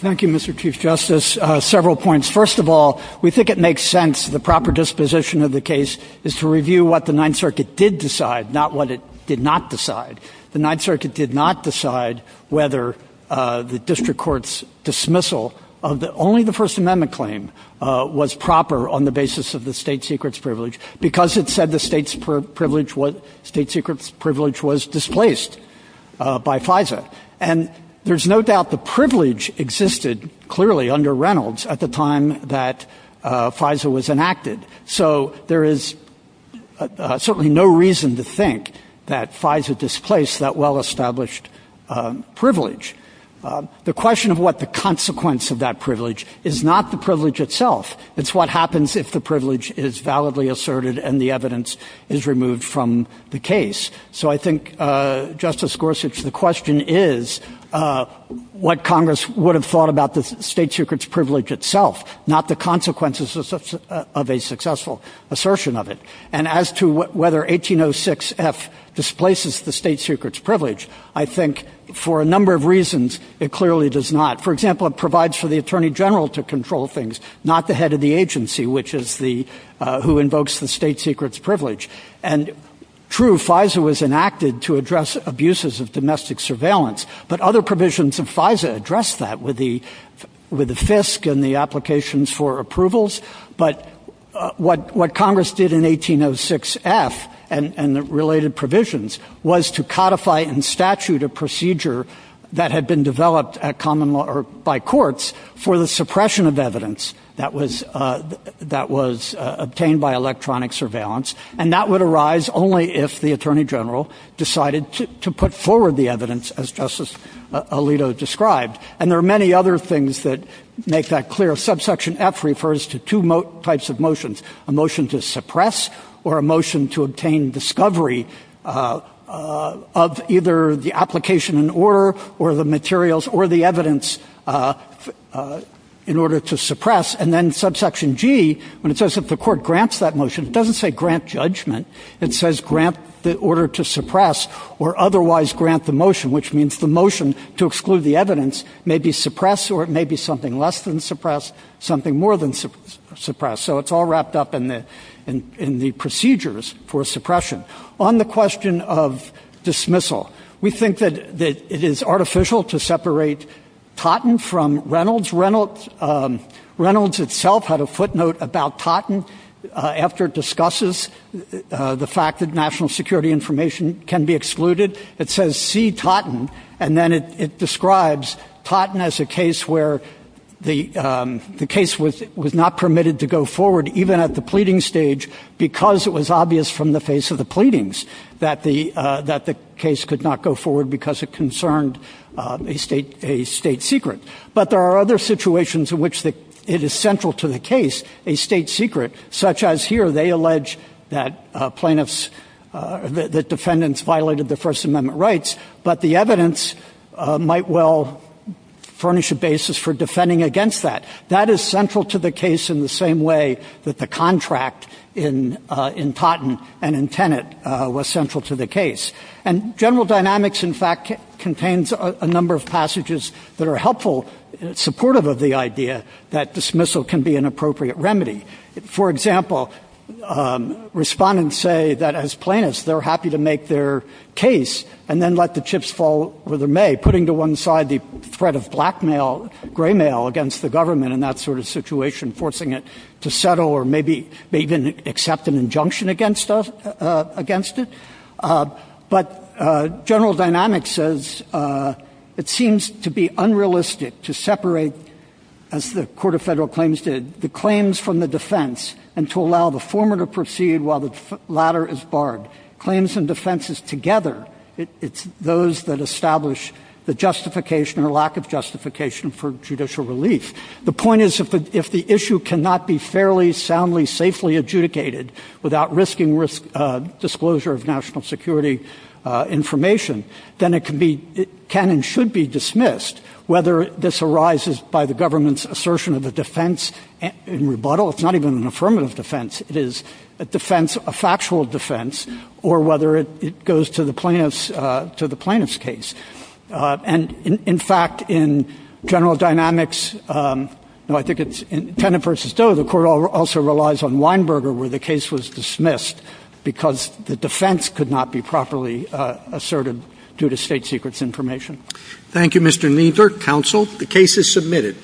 Thank you, Mr. Chief justice. Uh, several points. First of all, we think it makes sense. The proper disposition of the case is to review what the ninth circuit did decide, not what it did not decide. The ninth circuit did not decide whether, uh, the district court's dismissal of the only the first amendment claim, uh, was proper on the basis of the state secrets privilege because it said the state's per privilege, what state secrets privilege was displaced, uh, by five states. And there's no doubt the privilege existed clearly under Reynolds at the time that, uh, Pfizer was enacted. So there is certainly no reason to think that Pfizer displaced that well established, um, privilege. Uh, the question of what the consequence of that privilege is not the privilege itself. It's what happens if the privilege is validly asserted and the evidence is removed from the case. So I think, uh, justice Gorsuch, the question is, uh, what Congress would have thought about the state secrets privilege itself, not the consequences of a successful assertion of it. And as to whether 1806 F displaces the state secrets privilege, I think for a number of reasons, it clearly does not. For example, it provides for the attorney general to And true Pfizer was enacted to address abuses of domestic surveillance, but other provisions of Pfizer addressed that with the, with the FISC and the applications for approvals. But what, what Congress did in 1806 F and related provisions was to codify and statute a procedure that had been developed at common law or by courts for the suppression of evidence that was, uh, that was, uh, obtained by electronic surveillance. And that would arise only if the attorney general decided to put forward the evidence as justice Alito described. And there are many other things that make that clear. Subsection F refers to two types of motions, a motion to suppress or a motion to obtain discovery, uh, uh, of either the application in order or the materials or the when it says that the court grants that motion, it doesn't say grant judgment. It says grant the order to suppress or otherwise grant the motion, which means the motion to exclude the evidence may be suppressed, or it may be something less than suppressed, something more than suppressed. So it's all wrapped up in the, in, in the procedures for suppression on the question of dismissal. We think that, that it is artificial to separate Totten from Reynolds. Reynolds, um, Reynolds itself had a footnote about Totten, uh, after discusses, uh, the fact that national security information can be excluded. It says, see Totten. And then it, it describes Totten as a case where the, um, the case was, was not permitted to go forward even at the pleading stage, because it was obvious from the face of the pleadings that the, uh, that the case could not go forward because it concerned, um, a state, a state secret. But there are other situations in which the, it is central to the case, a state secret, such as here, they allege that, uh, plaintiffs, uh, the defendants violated the first amendment rights, but the evidence, uh, might well furnish a basis for defending against that. That is central to the case in the same way that the contract in, uh, in Totten and in Tenet, uh, was central to the case. And general dynamics, in fact, contains a number of passages that are helpful, supportive of the idea that dismissal can be an appropriate remedy. For example, um, respondents say that as plaintiffs, they're happy to make their case and then let the chips fall where they may, putting to one side the threat of blackmail, graymail against the government in that sort of situation, forcing it to settle or maybe, maybe even accept an injunction against us, uh, against it. Uh, but, uh, general dynamics says, uh, it seems to be unrealistic to separate, as the Court of Federal Claims did, the claims from the defense and to allow the former to proceed while the latter is or lack of justification for judicial relief. The point is, if the, if the issue cannot be fairly, soundly, safely adjudicated without risking risk, uh, disclosure of national security, uh, information, then it can be, it can and should be dismissed whether this arises by the government's assertion of a defense and rebuttal. It's not even an affirmative defense. It is a defense, a factual defense, or whether it goes to the plaintiff's, uh, to the plaintiff's case. Uh, and in, in fact, in general dynamics, um, well, I think it's in Tennant v. Doe, the Court also relies on Weinberger where the case was dismissed because the defense could not be properly, uh, asserted due to state secrets information. Thank you, Mr. Kneedler. Counsel, the case is submitted.